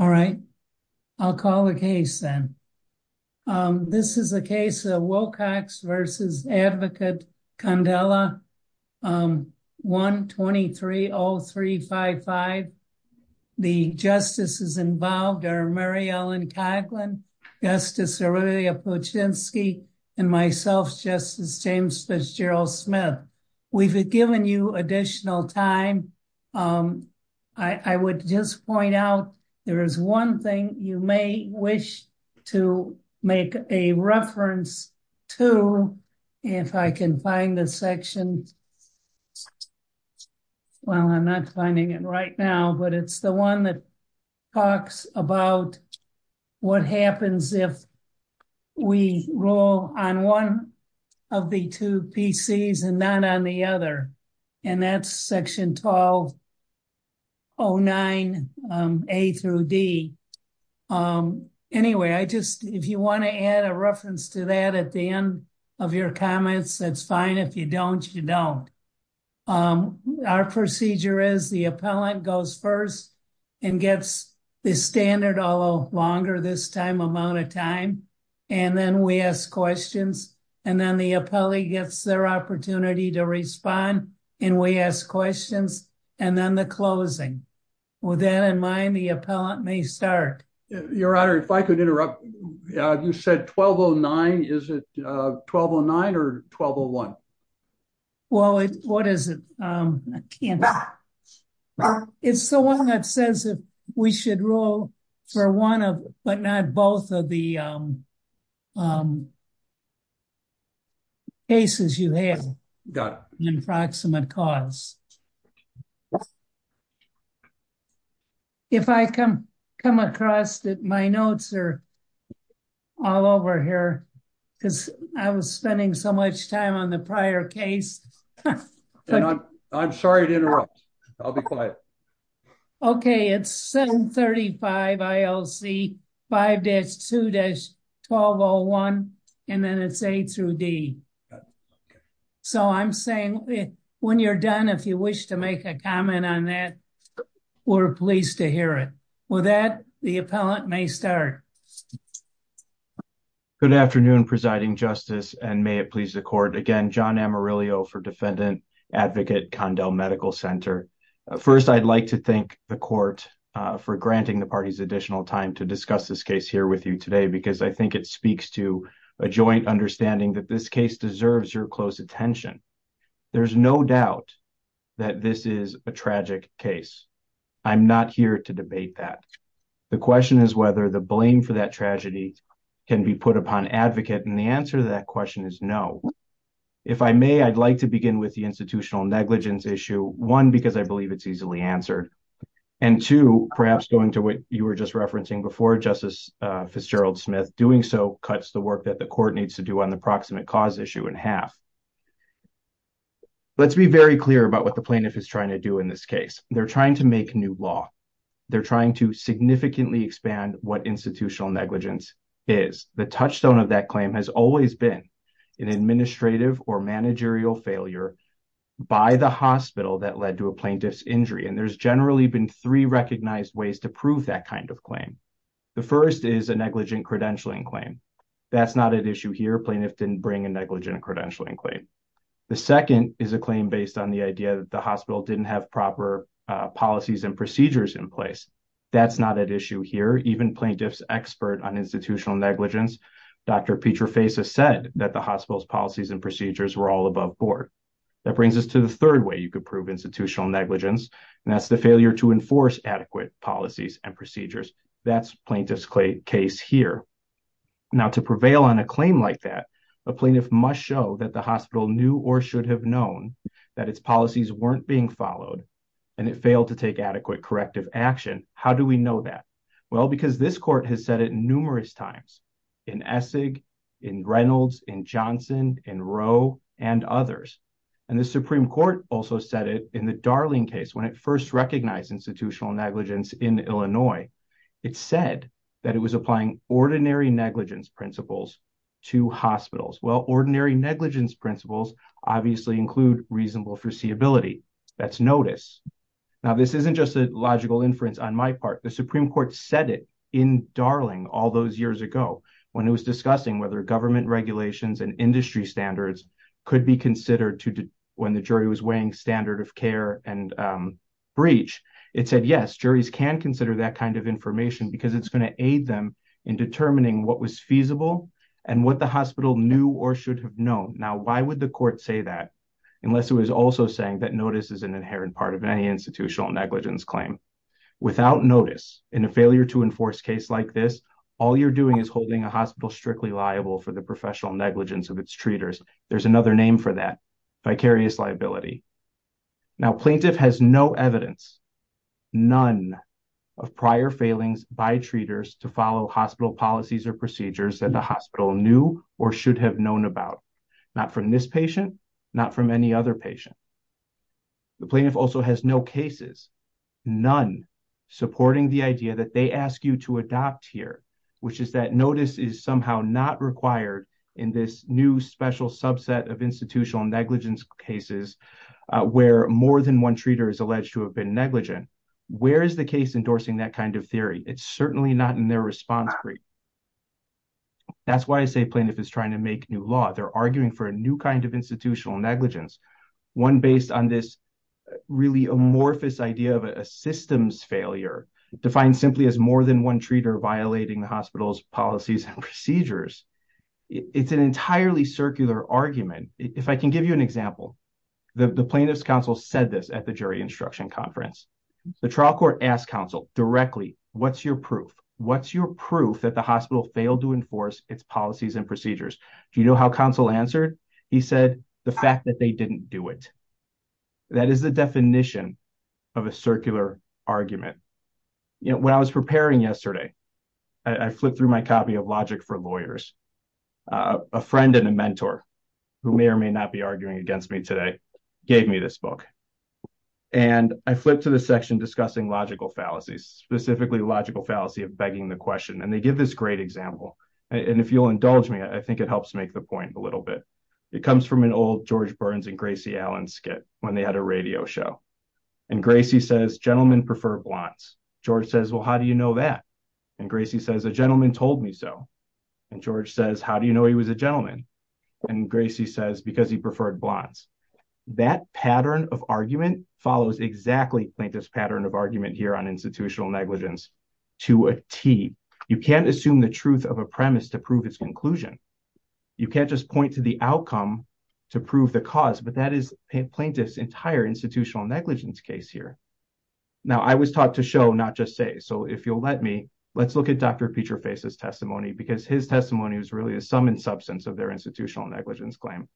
All right, I'll call the case then. This is a case of Wilcox v. Advocate Condella, 123-0355. The justices involved are Mary Ellen Coghlan, Justice Aurelia Puczynski, and myself, Justice James Fitzgerald Smith. We've given you additional time. I would just point out, there is one thing you may wish to make a reference to, if I can find the section. Well, I'm not finding it right now, but it's the one that talks about what happens if we rule on one of the two PCs and not on the other. And that's section 1209A-D. Anyway, I just, if you want to add a reference to that at the end of your comments, that's fine. If you don't, you don't. Our procedure is the appellant goes first and gets the standard, although longer this time amount of time. And then we ask questions, and then the appellee gets their opportunity to respond, and we ask questions, and then the closing. With that in mind, the appellant may start. Your Honor, if I could interrupt. You said 1209. Is it 1209 or 1201? Well, what is it? I can't. It's the one that says that we should rule for one of, but not both of the cases you have. Got it. Approximate cause. If I can come across that my notes are all over here, because I was spending so much time on the prior case. I'm sorry to interrupt. I'll be quiet. Okay, it's 735 ILC 5-2-1201, and then it's A-D. So I'm saying when you're done, if you wish to make a comment on that, we're pleased to hear it. With that, the appellant may start. Good afternoon, Presiding Justice, and may it please the Court. Again, John Amarillo for Defendant Advocate Condell Medical Center. First, I'd like to thank the Court for granting the party's additional time to discuss this case here with you today, because I think it speaks to a joint understanding that this case deserves your close attention. There's no doubt that this is a tragic case. I'm not here to debate that. The question is whether the blame for that tragedy can be put upon advocate, and the answer to that question is no. If I may, I'd like to begin with the institutional negligence issue, one, because I believe it's easily answered. And two, perhaps going to what you were just referencing before, Justice Fitzgerald-Smith, doing so cuts the work that the Court needs to do on the approximate cause issue in half. Let's be very clear about what the plaintiff is trying to do in this case. They're trying to make new law. They're trying to significantly expand what institutional negligence is. The touchstone of that claim has always been an administrative or managerial failure by the hospital that led to a plaintiff's injury, and there's generally been three recognized ways to prove that kind of claim. The first is a negligent credentialing claim. That's not at issue here. Plaintiffs didn't bring a negligent credentialing claim. The second is a claim based on the idea that the hospital didn't have proper policies and procedures in place. That's not at issue here. Even plaintiffs' expert on institutional negligence, Dr. Petra Faisa, said that the hospital's policies and procedures were all above board. That brings us to the third way you could prove institutional negligence, and that's the failure to enforce adequate policies and procedures. That's plaintiff's case here. Now, to prevail on a claim like that, a plaintiff must show that the hospital knew or should have known that its policies weren't being followed, and it failed to take adequate corrective action. How do we know that? Well, because this court has said it numerous times in Essig, in Reynolds, in Johnson, in Rowe, and others, and the Supreme Court also said it in the Darling case when it first recognized institutional negligence in Illinois. It said that it was applying ordinary negligence principles to hospitals. Well, ordinary negligence principles obviously include reasonable foreseeability. That's notice. Now, this isn't just a logical inference on my part. The Supreme Court said it in Darling all those years ago when it was discussing whether government regulations and industry standards could be considered when the jury was weighing standard of care and breach. It said, yes, juries can consider that kind of information because it's going to aid them in determining what was feasible and what the hospital knew or should have known. Now, why would the court say that unless it was also saying that notice is an inherent part of any institutional negligence claim? Without notice in a failure to enforce case like this, all you're doing is holding a hospital strictly liable for the professional negligence of its treaters. There's another name for that, vicarious liability. Now, plaintiff has no evidence, none of prior failings by treaters to follow hospital policies or procedures that the hospital knew or should have known about, not from this patient, not from any other patient. The plaintiff also has no cases, none, supporting the idea that they ask you to adopt here, which is that notice is somehow not required in this new special subset of institutional negligence cases where more than one treater is alleged to have been negligent. Where is the case endorsing that kind of theory? It's certainly not in their response brief. That's why I say plaintiff is trying to make new law. They're arguing for a new kind of institutional negligence. One based on this really amorphous idea of a systems failure defined simply as more than one treater violating the hospital's policies and procedures. It's an entirely circular argument. If I can give you an example, the plaintiff's counsel said this at the jury instruction conference. The trial court asked counsel directly, what's your proof? What's your proof that the hospital failed to enforce its policies and procedures? Do you know how counsel answered? He said the fact that they didn't do it. That is the definition of a circular argument. When I was preparing yesterday, I flipped through my copy of Logic for Lawyers. A friend and a mentor, who may or may not be arguing against me today, gave me this book. And I flipped to the section discussing logical fallacies, specifically logical fallacy of begging the question. And they give this great example. And if you'll indulge me, I think it helps make the point a little bit. It comes from an old George Burns and Gracie Allen skit when they had a radio show. And Gracie says, gentlemen prefer blondes. George says, well, how do you know that? And Gracie says, a gentleman told me so. And George says, how do you know he was a gentleman? And Gracie says, because he preferred blondes. That pattern of argument follows exactly like this pattern of argument here on institutional negligence to a T. You can't assume the truth of a premise to prove its conclusion. You can't just point to the outcome to prove the cause. But that is plaintiff's entire institutional negligence case here. Now, I was taught to show, not just say. So if you'll let me, let's look at Dr. Peterface's testimony, because his testimony is really a sum and substance of their institutional negligence claim.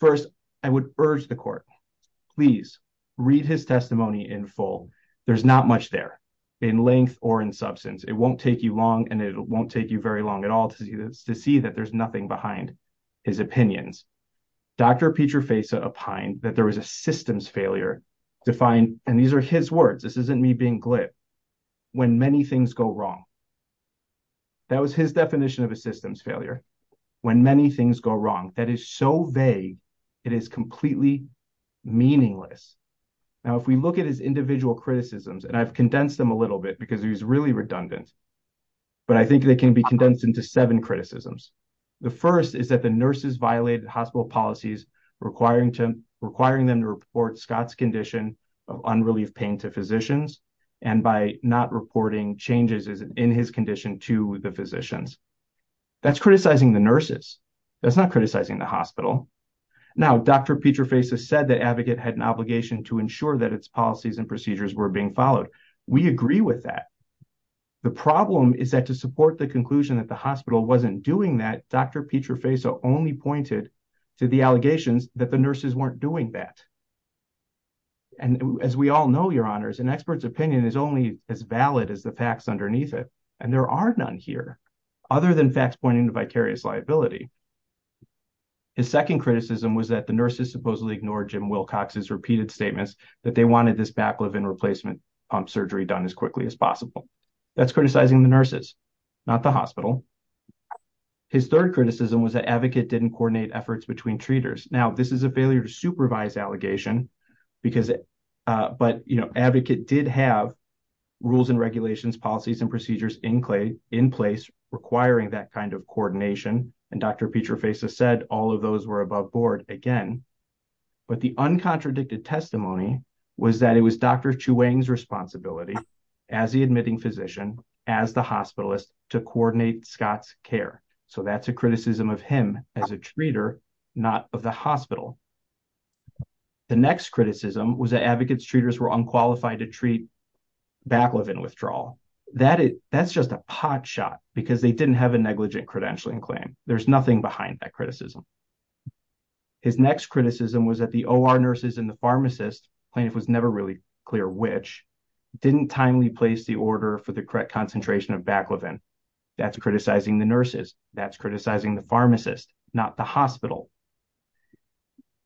First, I would urge the court, please read his testimony in full. There's not much there in length or in substance. It won't take you long, and it won't take you very long at all to see that there's nothing behind his opinions. Dr. Peterface opined that there was a systems failure to find, and these are his words, this isn't me being glib, when many things go wrong. That was his definition of a systems failure, when many things go wrong. That is so vague, it is completely meaningless. Now, if we look at his individual criticisms, and I've condensed them a little bit because he was really redundant, but I think they can be condensed into seven criticisms. The first is that the nurses violated hospital policies, requiring them to report Scott's condition of unrelieved pain to physicians, and by not reporting changes in his condition to the physicians. That's criticizing the nurses. That's not criticizing the hospital. Now, Dr. Peterface has said the advocate had an obligation to ensure that its policies and procedures were being followed. We agree with that. The problem is that to support the conclusion that the hospital wasn't doing that, Dr. Peterface only pointed to the allegations that the nurses weren't doing that. And as we all know, your honors, an expert's opinion is only as valid as the facts underneath it, and there are none here, other than facts pointing to vicarious liability. His second criticism was that the nurses supposedly ignored Jim Wilcox's repeated statements that they wanted this baclofen replacement pump surgery done as quickly as possible. That's criticizing the nurses, not the hospital. His third criticism was that advocate didn't coordinate efforts between treaters. Now, this is a failure to supervise allegation, but advocate did have rules and regulations, policies, and procedures in place requiring that kind of coordination, and Dr. Peterface has said all of those were above board again. But the uncontradicted testimony was that it was Dr. Chu Wang's responsibility as the admitting physician, as the hospitalist, to coordinate Scott's care. So that's a criticism of him as a treater, not of the hospital. The next criticism was that advocate's treaters were unqualified to treat baclofen withdrawal. That's just a pot shot because they didn't have a negligent credentialing claim. There's nothing behind that criticism. His next criticism was that the OR nurses and the pharmacists, plaintiff was never really clear which, didn't timely place the order for the correct concentration of baclofen. That's criticizing the nurses. That's criticizing the pharmacists, not the hospital.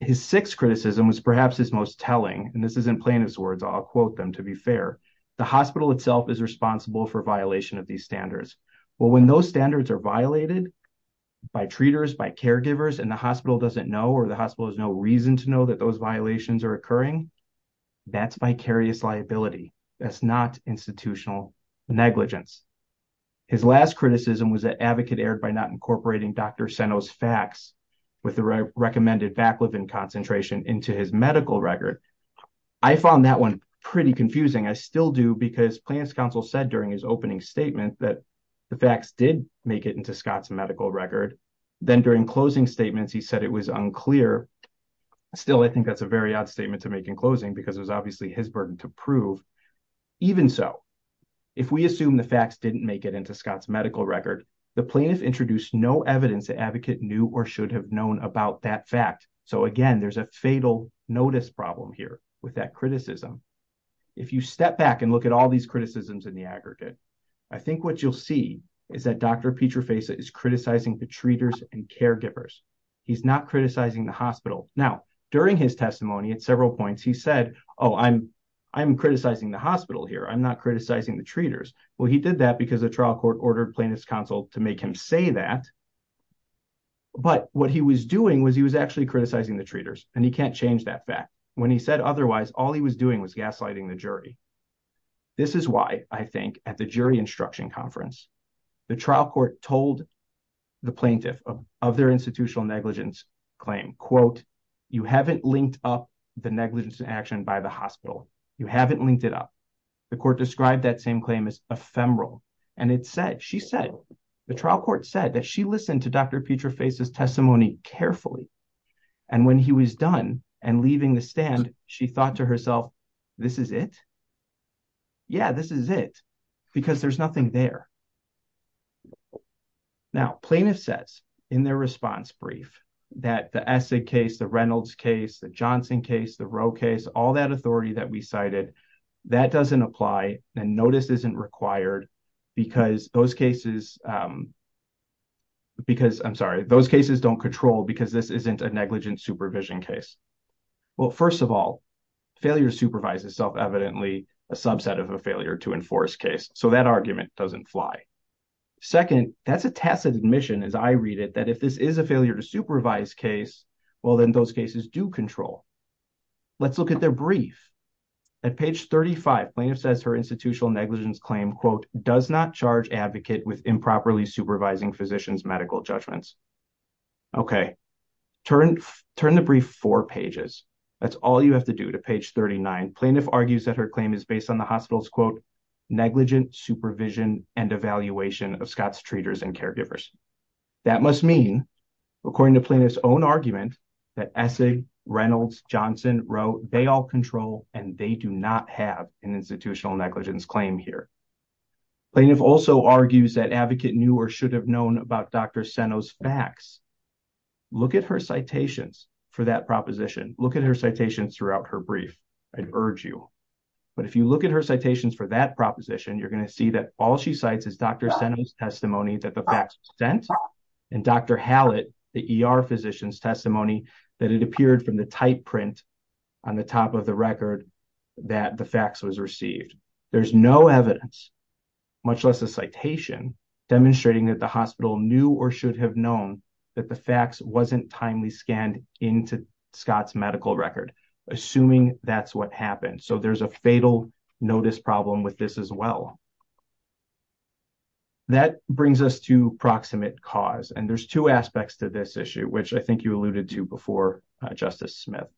His sixth criticism was perhaps his most telling, and this is in plaintiff's words, I'll quote them to be fair. The hospital itself is responsible for violation of these standards. Well, when those standards are violated by treaters, by caregivers, and the hospital doesn't know or the hospital has no reason to know that those violations are occurring, that's vicarious liability. That's not institutional negligence. His last criticism was that advocate erred by not incorporating Dr. Seno's facts with the recommended baclofen concentration into his medical record. I found that one pretty confusing. I still do because plaintiff's counsel said during his opening statement that the facts did make it into Scott's medical record. Then during closing statements, he said it was unclear. Still, I think that's a very odd statement to make in closing because it's obviously his burden to prove. Even so, if we assume the facts didn't make it into Scott's medical record, the plaintiff introduced no evidence that advocate knew or should have known about that fact. So, again, there's a fatal notice problem here with that criticism. If you step back and look at all these criticisms in the aggregate, I think what you'll see is that Dr. Petrafeza is criticizing the treaters and caregivers. He's not criticizing the hospital. Now, during his testimony at several points, he said, oh, I'm criticizing the hospital here. I'm not criticizing the treaters. Well, he did that because the trial court ordered plaintiff's counsel to make him say that. But what he was doing was he was actually criticizing the treaters, and he can't change that fact. When he said otherwise, all he was doing was gaslighting the jury. This is why I think at the jury instruction conference, the trial court told the plaintiff of their institutional negligence claim, quote, you haven't linked up the negligence in action by the hospital. You haven't linked it up. The court described that same claim as ephemeral, and it said, she said, the trial court said that she listened to Dr. Petrafeza's testimony carefully. And when he was done and leaving the stand, she thought to herself, this is it? Yeah, this is it. Because there's nothing there. Now, plaintiffs said in their response brief that the Essig case, the Reynolds case, the Johnson case, the Roe case, all that authority that we cited, that doesn't apply and notice isn't required because those cases don't control. Because this isn't a negligence supervision case. Well, first of all, failure supervises self-evidently a subset of a failure to enforce case. So that argument doesn't fly. Second, that's a tacit admission, as I read it, that if this is a failure to supervise case, well, then those cases do control. Let's look at their brief. At page 35, plaintiff says her institutional negligence claim, quote, does not charge advocate with improperly supervising physician's medical judgments. Okay. Turn the brief four pages. That's all you have to do to page 39. Plaintiff argues that her claim is based on the hospital's, quote, negligent supervision and evaluation of Scott's treaters and caregivers. That must mean, according to plaintiff's own argument, that Essig, Reynolds, Johnson, Roe, they all control and they do not have an institutional negligence claim here. Plaintiff also argues that advocate knew or should have known about Dr. Seno's fax. Look at her citations for that proposition. Look at her citations throughout her brief. I urge you. But if you look at her citations for that proposition, you're going to see that all she cites is Dr. Seno's testimony that the fax was sent and Dr. Hallett, the ER physician's testimony, that it appeared from the type print on the top of the record that the fax was received. There's no evidence, much less a citation, demonstrating that the hospital knew or should have known that the fax wasn't timely scanned into Scott's medical record, assuming that's what happened. So there's a fatal notice problem with this as well. That brings us to proximate cause, and there's two aspects to this issue, which I think you alluded to before, Justice Smith.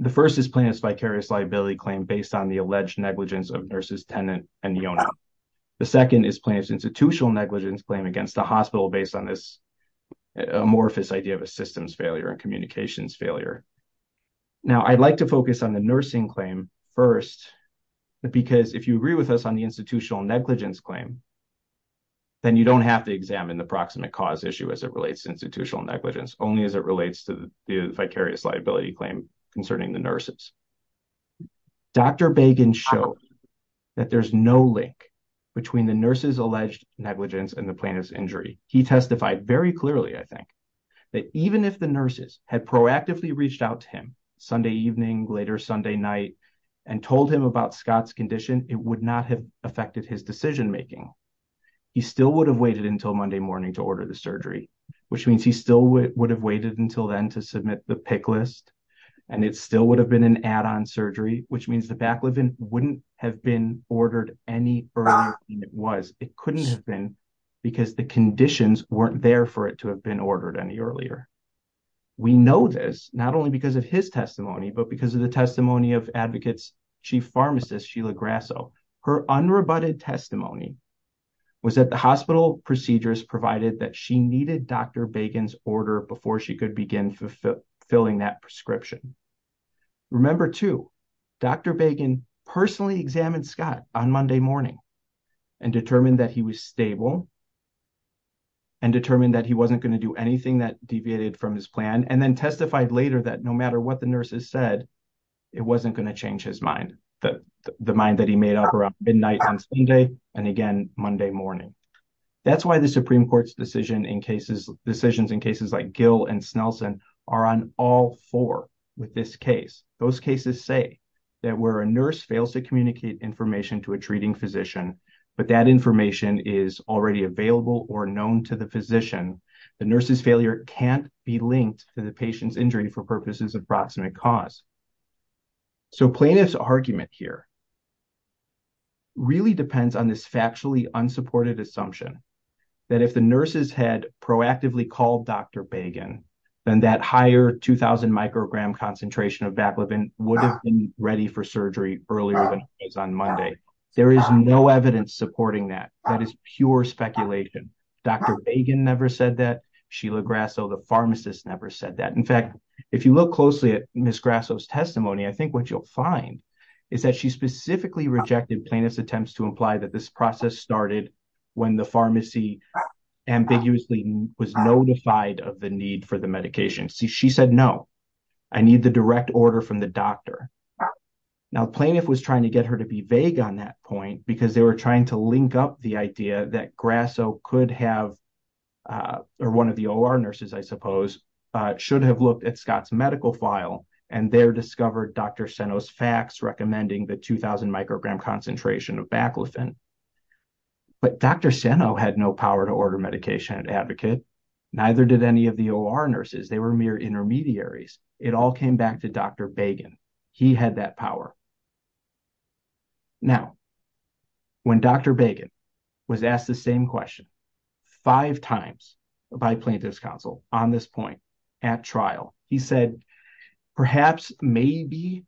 The first is plaintiff's vicarious liability claim based on the alleged negligence of nurse's tenant and the owner. The second is plaintiff's institutional negligence claim against the hospital based on this amorphous idea of a systems failure and communications failure. Now, I'd like to focus on the nursing claim first, because if you agree with us on the institutional negligence claim, then you don't have to examine the proximate cause issue as it relates to institutional negligence, only as it relates to the vicarious liability claim concerning the nurses. Dr. Bagen showed that there's no link between the nurses' alleged negligence and the plaintiff's injury. He testified very clearly, I think, that even if the nurses had proactively reached out to him Sunday evening, later Sunday night, and told him about Scott's condition, it would not have affected his decision making. He still would have waited until Monday morning to order the surgery, which means he still would have waited until then to submit the pick list, and it still would have been an add-on surgery, which means the back wouldn't have been ordered any earlier than it was. It couldn't have been because the conditions weren't there for it to have been ordered any earlier. We know this, not only because of his testimony, but because of the testimony of Advocate's Chief Pharmacist, Sheila Grasso. Her unrebutted testimony was that the hospital procedures provided that she needed Dr. Bagen's order before she could begin fulfilling that prescription. Remember, too, Dr. Bagen personally examined Scott on Monday morning and determined that he was stable, and determined that he wasn't going to do anything that deviated from his plan, and then testified later that no matter what the nurses said, it wasn't going to change his mind. The mind that he made up around midnight on Sunday and again Monday morning. That's why the Supreme Court's decisions in cases like Gill and Snelson are on all four with this case. Those cases say that where a nurse fails to communicate information to a treating physician, but that information is already available or known to the physician, the nurse's failure can't be linked to the patient's injury for purposes of proximate cause. So, Playa's argument here really depends on this factually unsupported assumption that if the nurses had proactively called Dr. Bagen, then that higher 2,000 microgram concentration of Baclobin would have been ready for surgery earlier on Monday. There is no evidence supporting that. That is pure speculation. Dr. Bagen never said that. Sheila Grasso, the pharmacist, never said that. In fact, if you look closely at Ms. Grasso's testimony, I think what you'll find is that she specifically rejected Plaintiff's attempts to imply that this process started when the pharmacy ambiguously was notified of the need for the medication. She said, no, I need the direct order from the doctor. Now, Plaintiff was trying to get her to be vague on that point because they were trying to link up the idea that Grasso could have, or one of the OR nurses, I suppose, should have looked at Scott's medical file, and there discovered Dr. Seno's facts recommending the 2,000 microgram concentration of Baclobin. But Dr. Seno had no power to order medication and advocate. Neither did any of the OR nurses. They were mere intermediaries. It all came back to Dr. Bagen. He had that power. Now, when Dr. Bagen was asked the same question five times by Plaintiff's counsel on this point at trial, he said, perhaps, maybe,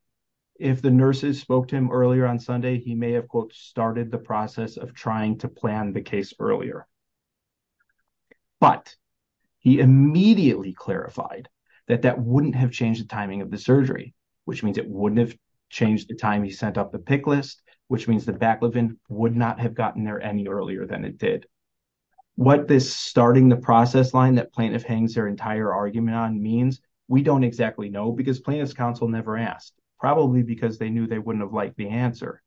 if the nurses spoke to him earlier on Sunday, he may have, quote, started the process of trying to plan the case earlier. But he immediately clarified that that wouldn't have changed the timing of the surgery, which means it wouldn't have changed the time he sent up the pick list, which means the Baclobin would not have gotten there any earlier than it did. What this starting the process line that Plaintiff hangs their entire argument on means, we don't exactly know because Plaintiff's counsel never asked, probably because they knew they wouldn't have liked the answer.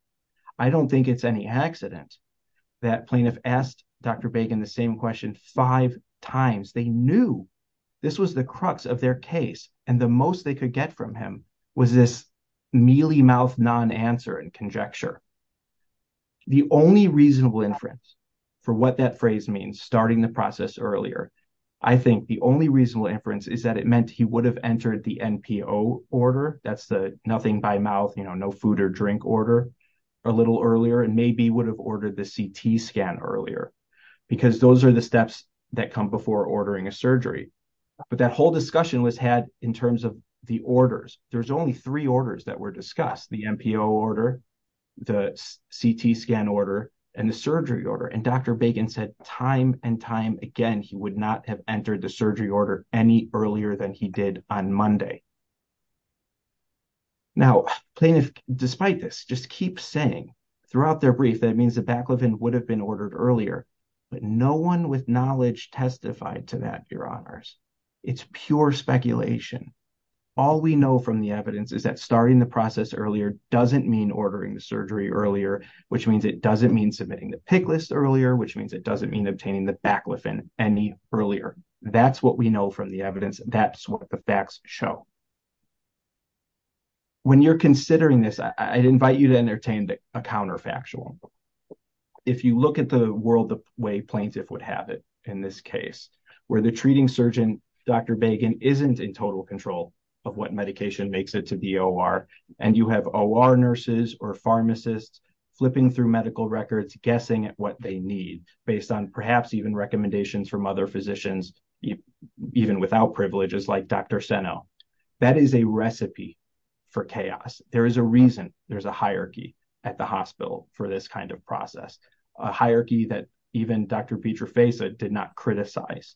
I don't think it's any accident that Plaintiff asked Dr. Bagen the same question five times. They knew this was the crux of their case. And the most they could get from him was this mealy-mouthed non-answer and conjecture. The only reasonable inference for what that phrase means, starting the process earlier, I think the only reasonable inference is that it meant he would have entered the NPO order, that's the nothing by mouth, you know, no food or drink order, a little earlier, and maybe would have ordered the CT scan earlier. Because those are the steps that come before ordering a surgery. But that whole discussion was had in terms of the orders. There's only three orders that were discussed, the NPO order, the CT scan order, and the surgery order. And Dr. Bagen said time and time again he would not have entered the surgery order any earlier than he did on Monday. Now, Plaintiff, despite this, just keeps saying throughout their brief that it means the baclofen would have been ordered earlier. But no one with knowledge testified to that, Your Honors. It's pure speculation. All we know from the evidence is that starting the process earlier doesn't mean ordering the surgery earlier, which means it doesn't mean submitting the PIC list earlier, which means it doesn't mean obtaining the baclofen any earlier. That's what we know from the evidence. That's what the facts show. When you're considering this, I invite you to entertain a counterfactual. If you look at the world the way Plaintiff would have it in this case, where the treating surgeon, Dr. Bagen, isn't in total control of what medication makes it to DOR, and you have OR nurses or pharmacists flipping through medical records, guessing at what they need, based on perhaps even recommendations from other physicians, even without privileges like Dr. Seno, that is a recipe for chaos. There is a reason there's a hierarchy at the hospital for this kind of process, a hierarchy that even Dr. Petrofeffa did not criticize.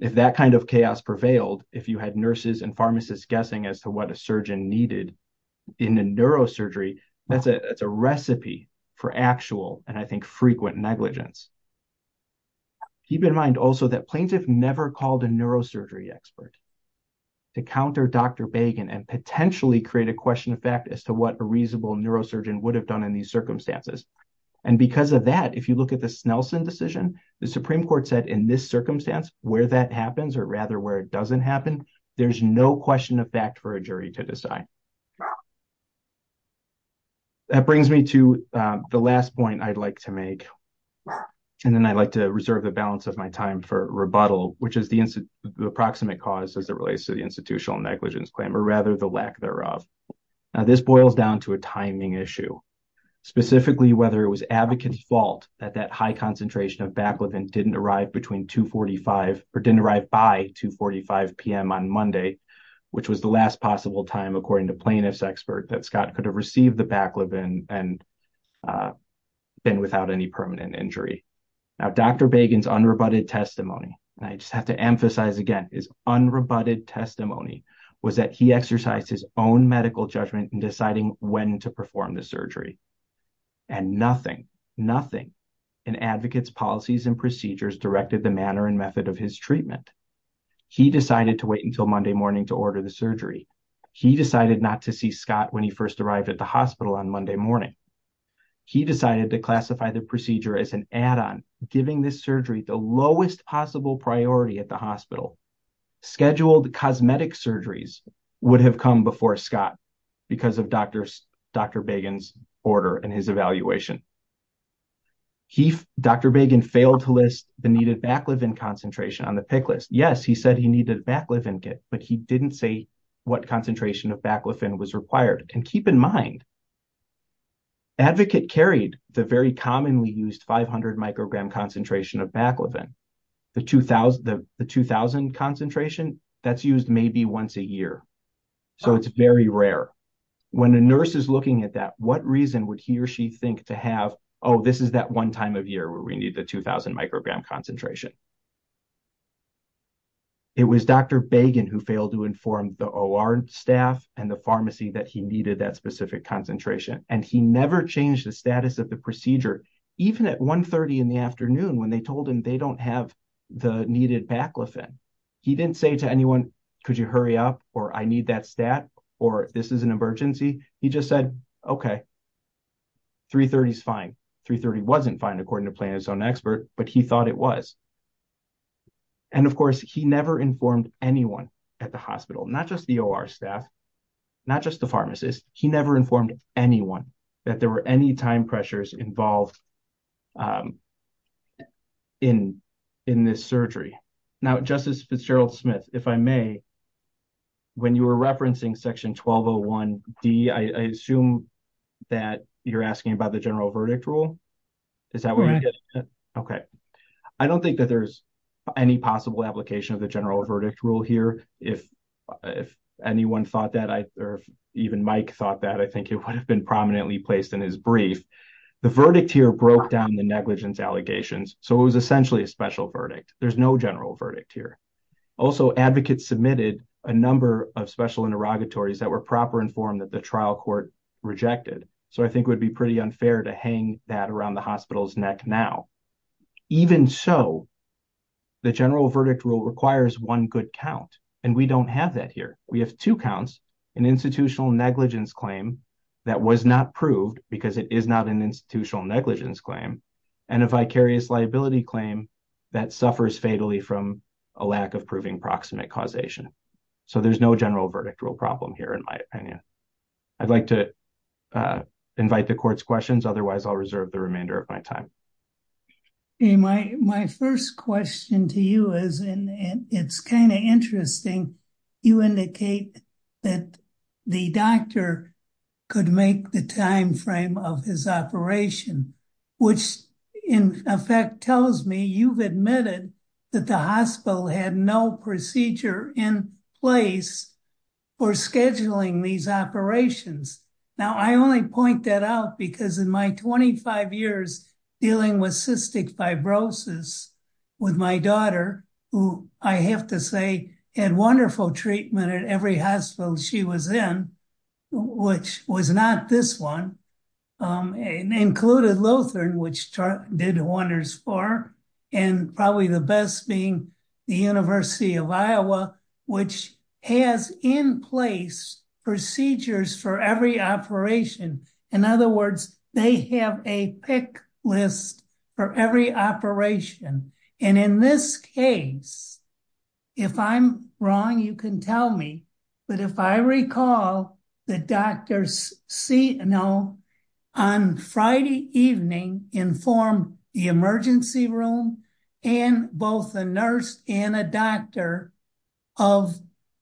If that kind of chaos prevailed, if you had nurses and pharmacists guessing as to what a surgeon needed in the neurosurgery, that's a recipe for actual and I think frequent negligence. Keep in mind also that Plaintiff never called a neurosurgery expert to counter Dr. Bagen and potentially create a question of fact as to what a reasonable neurosurgeon would have done in these circumstances. And because of that, if you look at the Snelson decision, the Supreme Court said in this circumstance, where that happens or rather where it doesn't happen, there's no question of fact for a jury to decide. That brings me to the last point I'd like to make. And then I'd like to reserve the balance of my time for rebuttal, which is the approximate cause as it relates to the institutional negligence claim, or rather the lack thereof. Now, this boils down to a timing issue, specifically whether it was advocate's fault that that high concentration of baclofen didn't arrive between 245 or didn't arrive by 245 p.m. on Monday, which was the last possible time, according to plaintiff's expert, that Scott could have received the baclofen and been without any permanent injury. Now, Dr. Bagen's unrebutted testimony, and I just have to emphasize again, his unrebutted testimony was that he exercised his own medical judgment in deciding when to perform the surgery. And nothing, nothing in advocate's policies and procedures directed the manner and method of his treatment. He decided to wait until Monday morning to order the surgery. He decided not to see Scott when he first arrived at the hospital on Monday morning. He decided to classify the procedure as an add-on, giving this surgery the lowest possible priority at the hospital. Scheduled cosmetic surgeries would have come before Scott because of Dr. Bagen's order and his evaluation. Dr. Bagen failed to list the needed baclofen concentration on the PIC list. Yes, he said he needed baclofen, but he didn't say what concentration of baclofen was required. And keep in mind, advocate carried the very commonly used 500-microgram concentration of baclofen. The 2,000 concentration, that's used maybe once a year, so it's very rare. When a nurse is looking at that, what reason would he or she think to have, oh, this is that one time of year where we need the 2,000-microgram concentration? It was Dr. Bagen who failed to inform the OR staff and the pharmacy that he needed that specific concentration. And he never changed the status of the procedure, even at 1.30 in the afternoon when they told him they don't have the needed baclofen. He didn't say to anyone, could you hurry up, or I need that stat, or this is an emergency. He just said, okay, 3.30 is fine. 3.30 wasn't fine, according to Plano's own expert, but he thought it was. And, of course, he never informed anyone at the hospital, not just the OR staff, not just the pharmacist. He never informed anyone that there were any time pressures involved in this surgery. Now, Justice Fitzgerald-Smith, if I may, when you were referencing Section 1201B, I assume that you're asking about the general verdict rule? Is that what you're getting at? Okay. I don't think that there's any possible application of the general verdict rule here. If anyone thought that, or even Mike thought that, I think it would have been prominently placed in his brief. The verdict here broke down the negligence allegations, so it was essentially a special verdict. There's no general verdict here. Also, advocates submitted a number of special interrogatories that were proper informed that the trial court rejected. So I think it would be pretty unfair to hang that around the hospital's neck now. Even so, the general verdict rule requires one good count, and we don't have that here. We have two counts, an institutional negligence claim that was not proved because it is not an institutional negligence claim, and a vicarious liability claim that suffers fatally from a lack of proving proximate causation. So there's no general verdict rule problem here, in my opinion. I'd like to invite the court's questions. Otherwise, I'll reserve the remainder of my time. My first question to you is, and it's kind of interesting, you indicate that the doctor could make the timeframe of his operation, which in effect tells me you've admitted that the hospital had no procedure in place for scheduling these operations. Now, I only point that out because in my 25 years dealing with cystic fibrosis with my daughter, who I have to say had wonderful treatment at every hospital she was in, which was not this one, and included Lothern, which did Horner's for her, and probably the best being the University of Iowa, which has in place procedures for every operation. In other words, they have a pick list for every operation. And in this case, if I'm wrong, you can tell me, but if I recall, the doctors on Friday evening informed the emergency room and both the nurse and a doctor of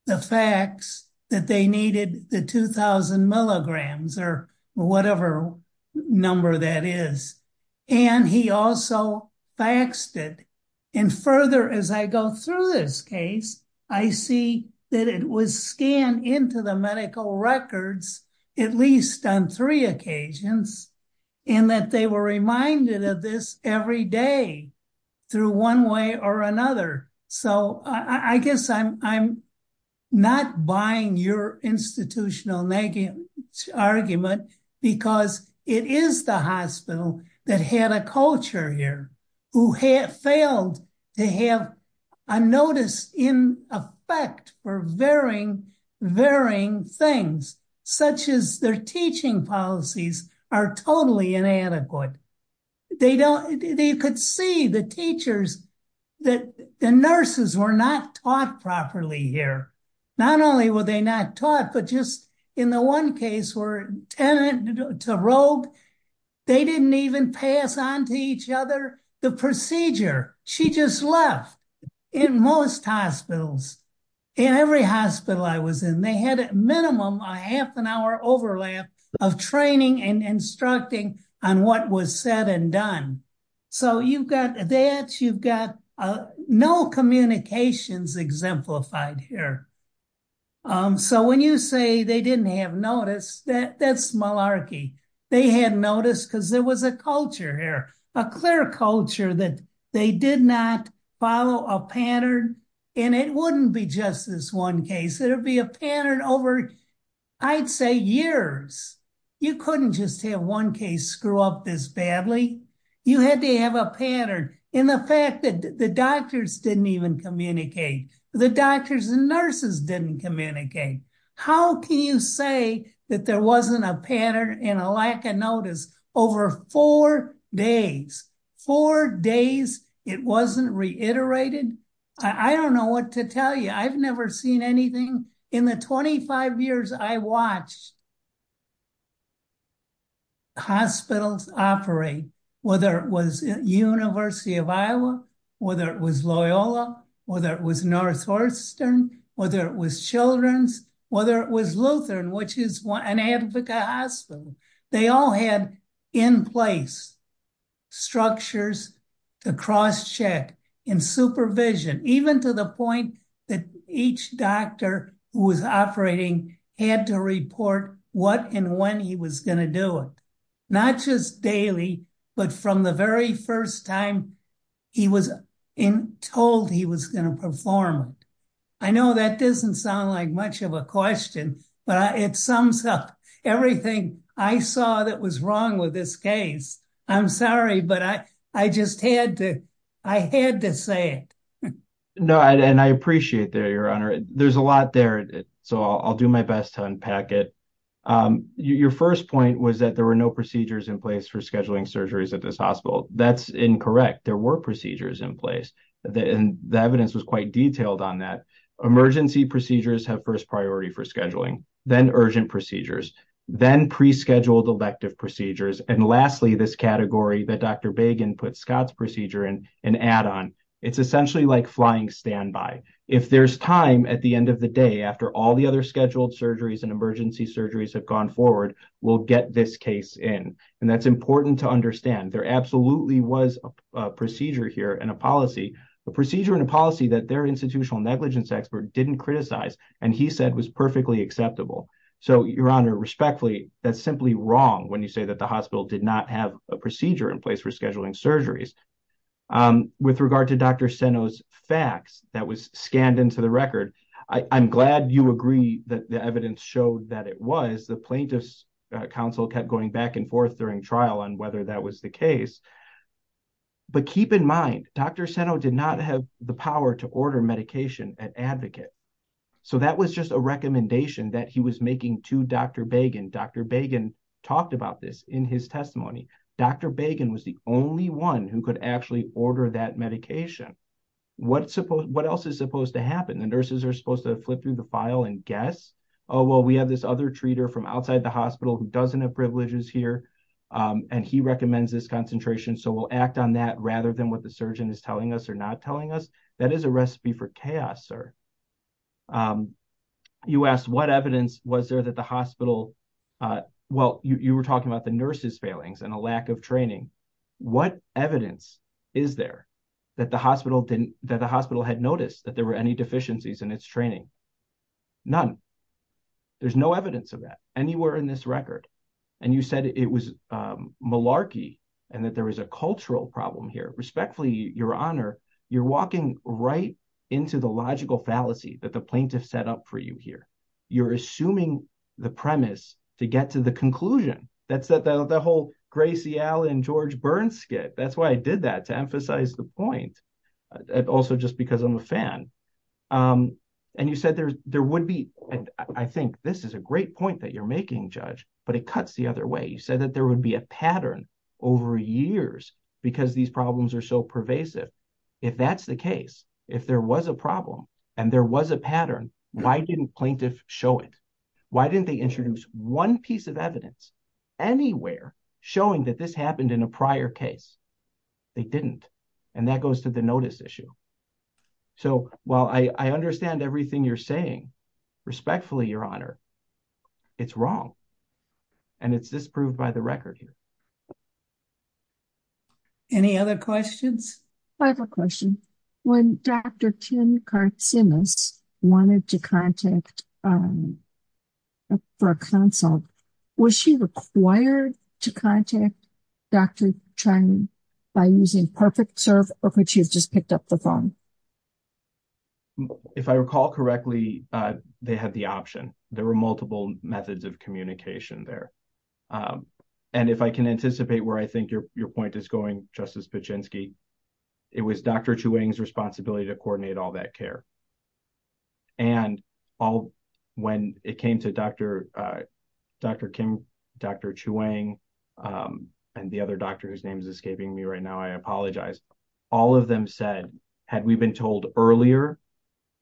the facts that they needed the 2,000 milligrams, or whatever number that is. And he also faxed it. And further, as I go through this case, I see that it was scanned into the medical records, at least on three occasions, and that they were reminded of this every day through one way or another. So I guess I'm not buying your institutional argument, because it is the hospital that had a culture here, who failed to have a notice in effect for varying things, such as their teaching policies are totally inadequate. They could see the nurses were not taught properly here. Not only were they not taught, but just in the one case where it's a rogue, they didn't even pass on to each other the procedure. She just left. In most hospitals, in every hospital I was in, they had at minimum a half an hour overlap of training and instructing on what was said and done. So you've got that, you've got no communications exemplified here. So when you say they didn't have notice, that's malarkey. They had notice because there was a culture here, a clear culture that they did not follow a pattern. And it wouldn't be just this one case. It would be a pattern over, I'd say, years. You couldn't just have one case screw up this badly. You had to have a pattern. And the fact that the doctors didn't even communicate, the doctors and nurses didn't communicate. How can you say that there wasn't a pattern and a lack of notice over four days? Four days it wasn't reiterated? I don't know what to tell you. I've never seen anything in the 25 years I watched hospitals operate, whether it was University of Iowa, whether it was Loyola, whether it was Northeastern, whether it was Children's, whether it was Lutheran, which is an advocate hospital. They all had in place structures to cross check and supervision, even to the point that each doctor who was operating had to report what and when he was going to do it. Not just daily, but from the very first time he was told he was going to perform. I know that doesn't sound like much of a question, but it sums up everything I saw that was wrong with this case. I'm sorry, but I just had to say it. No, and I appreciate that, Your Honor. There's a lot there, so I'll do my best to unpack it. Your first point was that there were no procedures in place for scheduling surgeries at this hospital. That's incorrect. There were procedures in place, and the evidence was quite detailed on that. Emergency procedures have first priority for scheduling, then urgent procedures, then pre-scheduled elective procedures, and lastly, this category that Dr. Bagan put Scott's procedure in, an add-on. It's essentially like flying standby. If there's time at the end of the day after all the other scheduled surgeries and emergency surgeries have gone forward, we'll get this case in, and that's important to understand. There absolutely was a procedure here and a policy, a procedure and a policy that their institutional negligence expert didn't criticize, and he said was perfectly acceptable. So, Your Honor, respectfully, that's simply wrong when you say that the hospital did not have a procedure in place for scheduling surgeries. With regard to Dr. Seno's facts that was scanned into the record, I'm glad you agree that the evidence showed that it was. The plaintiff's counsel kept going back and forth during trial on whether that was the case, but keep in mind, Dr. Seno did not have the power to order medication at Advocate, so that was just a recommendation that he was making to Dr. Bagan. Dr. Bagan talked about this in his testimony. Dr. Bagan was the only one who could actually order that medication. What else is supposed to happen? The nurses are supposed to flip through the file and guess. Oh, well, we have this other treater from outside the hospital who doesn't have privileges here, and he recommends this concentration, so we'll act on that rather than what the surgeon is telling us or not telling us. That is a recipe for chaos, sir. You asked what evidence was there that the hospital, well, you were talking about the nurses failings, the lack of training. What evidence is there that the hospital had noticed that there were any deficiencies in its training? None. There's no evidence of that anywhere in this record. And you said it was malarkey and that there was a cultural problem here. Respectfully, Your Honor, you're walking right into the logical fallacy that the plaintiff set up for you here. You're assuming the premise to get to the conclusion. That's the whole Gracie Allen, George Byrne skit. That's why I did that, to emphasize the point. Also, just because I'm a fan. And you said there would be, I think this is a great point that you're making, Judge, but it cuts the other way. You said that there would be a pattern over years because these problems are so pervasive. If that's the case, if there was a problem and there was a pattern, why didn't plaintiffs show it? Why didn't they introduce one piece of evidence anywhere showing that this happened in a prior case? They didn't. And that goes to the notice issue. So while I understand everything you're saying, respectfully, Your Honor, it's wrong. And it's disproved by the record here. Any other questions? I have a question. When Dr. Kim Karsimis wanted to contact Brooke Hansel, was she required to contact Dr. Chiney by using PerfectServe or could she have just picked up the phone? If I recall correctly, they had the option. There were multiple methods of communication there. And if I can anticipate where I think your point is going, Justice Buczynski, it was Dr. Chuang's responsibility to coordinate all that care. And when it came to Dr. Kim, Dr. Chuang, and the other doctor whose name is escaping me right now, I apologize. All of them said, had we been told earlier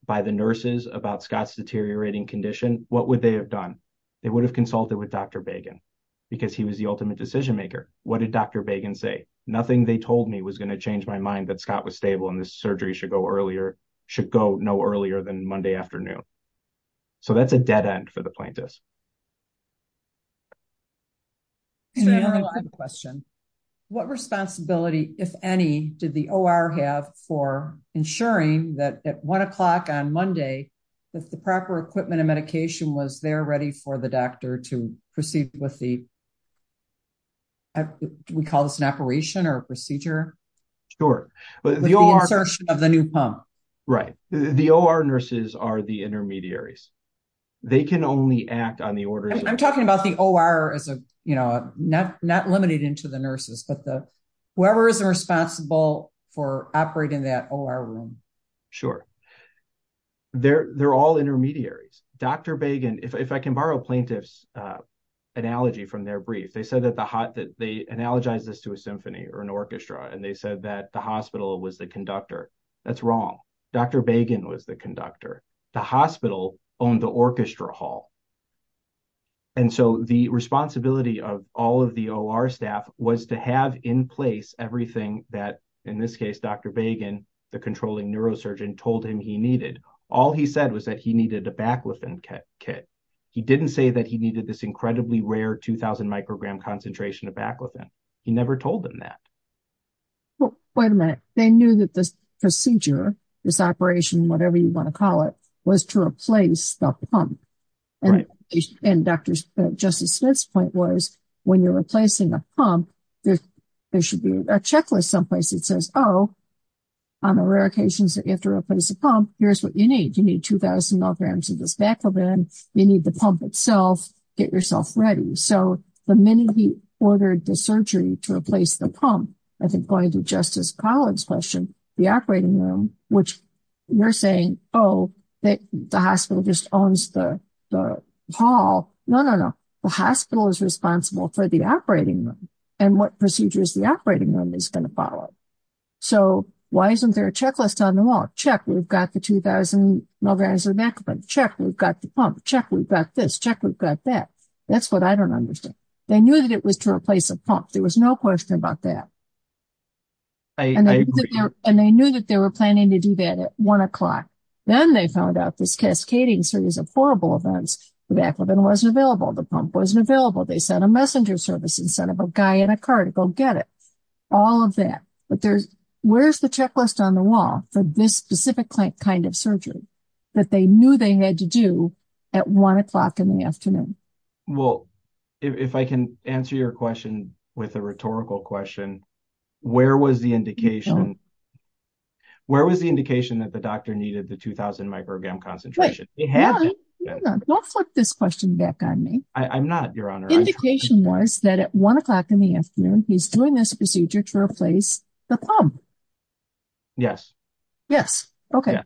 by the nurses about Scott's deteriorating condition, what would they have done? They would have consulted with Dr. Bagan because he was the ultimate decision maker. What did Dr. Bagan say? Nothing they told me was going to change my mind that Scott was stable and the surgery should go no earlier than Monday afternoon. So that's a dead end for the plaintiffs. I have a question. What responsibility, if any, did the OR have for ensuring that at 1 o'clock on Monday, that the proper equipment and medication was there ready for the doctor to proceed with the, we call this an operation or procedure? Sure. The insertion of the new pump. Right. The OR nurses are the intermediaries. They can only act on the orders. I'm talking about the OR as a, you know, not limited into the nurses, but whoever is responsible for operating that OR room. Sure. They're all intermediaries. Dr. Bagan, if I can borrow plaintiff's analogy from their brief, they said that they analogized this to a symphony or an orchestra, and they said that the hospital was the conductor. Dr. Bagan was the conductor. He owned the orchestra hall. And so the responsibility of all of the OR staff was to have in place everything that, in this case, Dr. Bagan, the controlling neurosurgeon, told him he needed. All he said was that he needed a baclofen kit. He didn't say that he needed this incredibly rare 2,000-microgram concentration of baclofen. He never told them that. Well, wait a minute. They knew that this procedure, this operation, whatever you want to call it, was to replace the pump. And Dr. Justice Smith's point was, when you're replacing a pump, there should be a checklist someplace that says, oh, on the rare occasions that you have to replace a pump, here's what you need. You need 2,000 milligrams of this baclofen. You need the pump itself. Get yourself ready. So the minute he ordered the surgery to replace the pump, I think going to Justice Collins' question, the operating room, which you're saying, oh, the hospital just owns the hall. No, no, no. The hospital is responsible for the operating room and what procedures the operating room is going to follow. So why isn't there a checklist on the wall? Check. We've got the 2,000 milligrams of baclofen. Check. We've got the pump. Check. We've got this. Check. We've got that. That's what I don't understand. They knew that it was to replace a pump. There was no question about that. And they knew that they were planning to do that at 1 o'clock. Then they found out this cascading series of horrible events. The baclofen wasn't available. The pump wasn't available. They sent a messenger service instead of a guy in a car to go get it. All of that. But where's the checklist on the wall for this specific kind of surgery that they knew they had to do at 1 o'clock in the afternoon? Well, if I can answer your question with a rhetorical question, where was the indication that the doctor needed the 2,000 microgram concentration? Well, put this question back on me. I'm not, Your Honor. The indication was that at 1 o'clock in the afternoon, he's doing this procedure to replace the pump. Yes. Yes. Okay.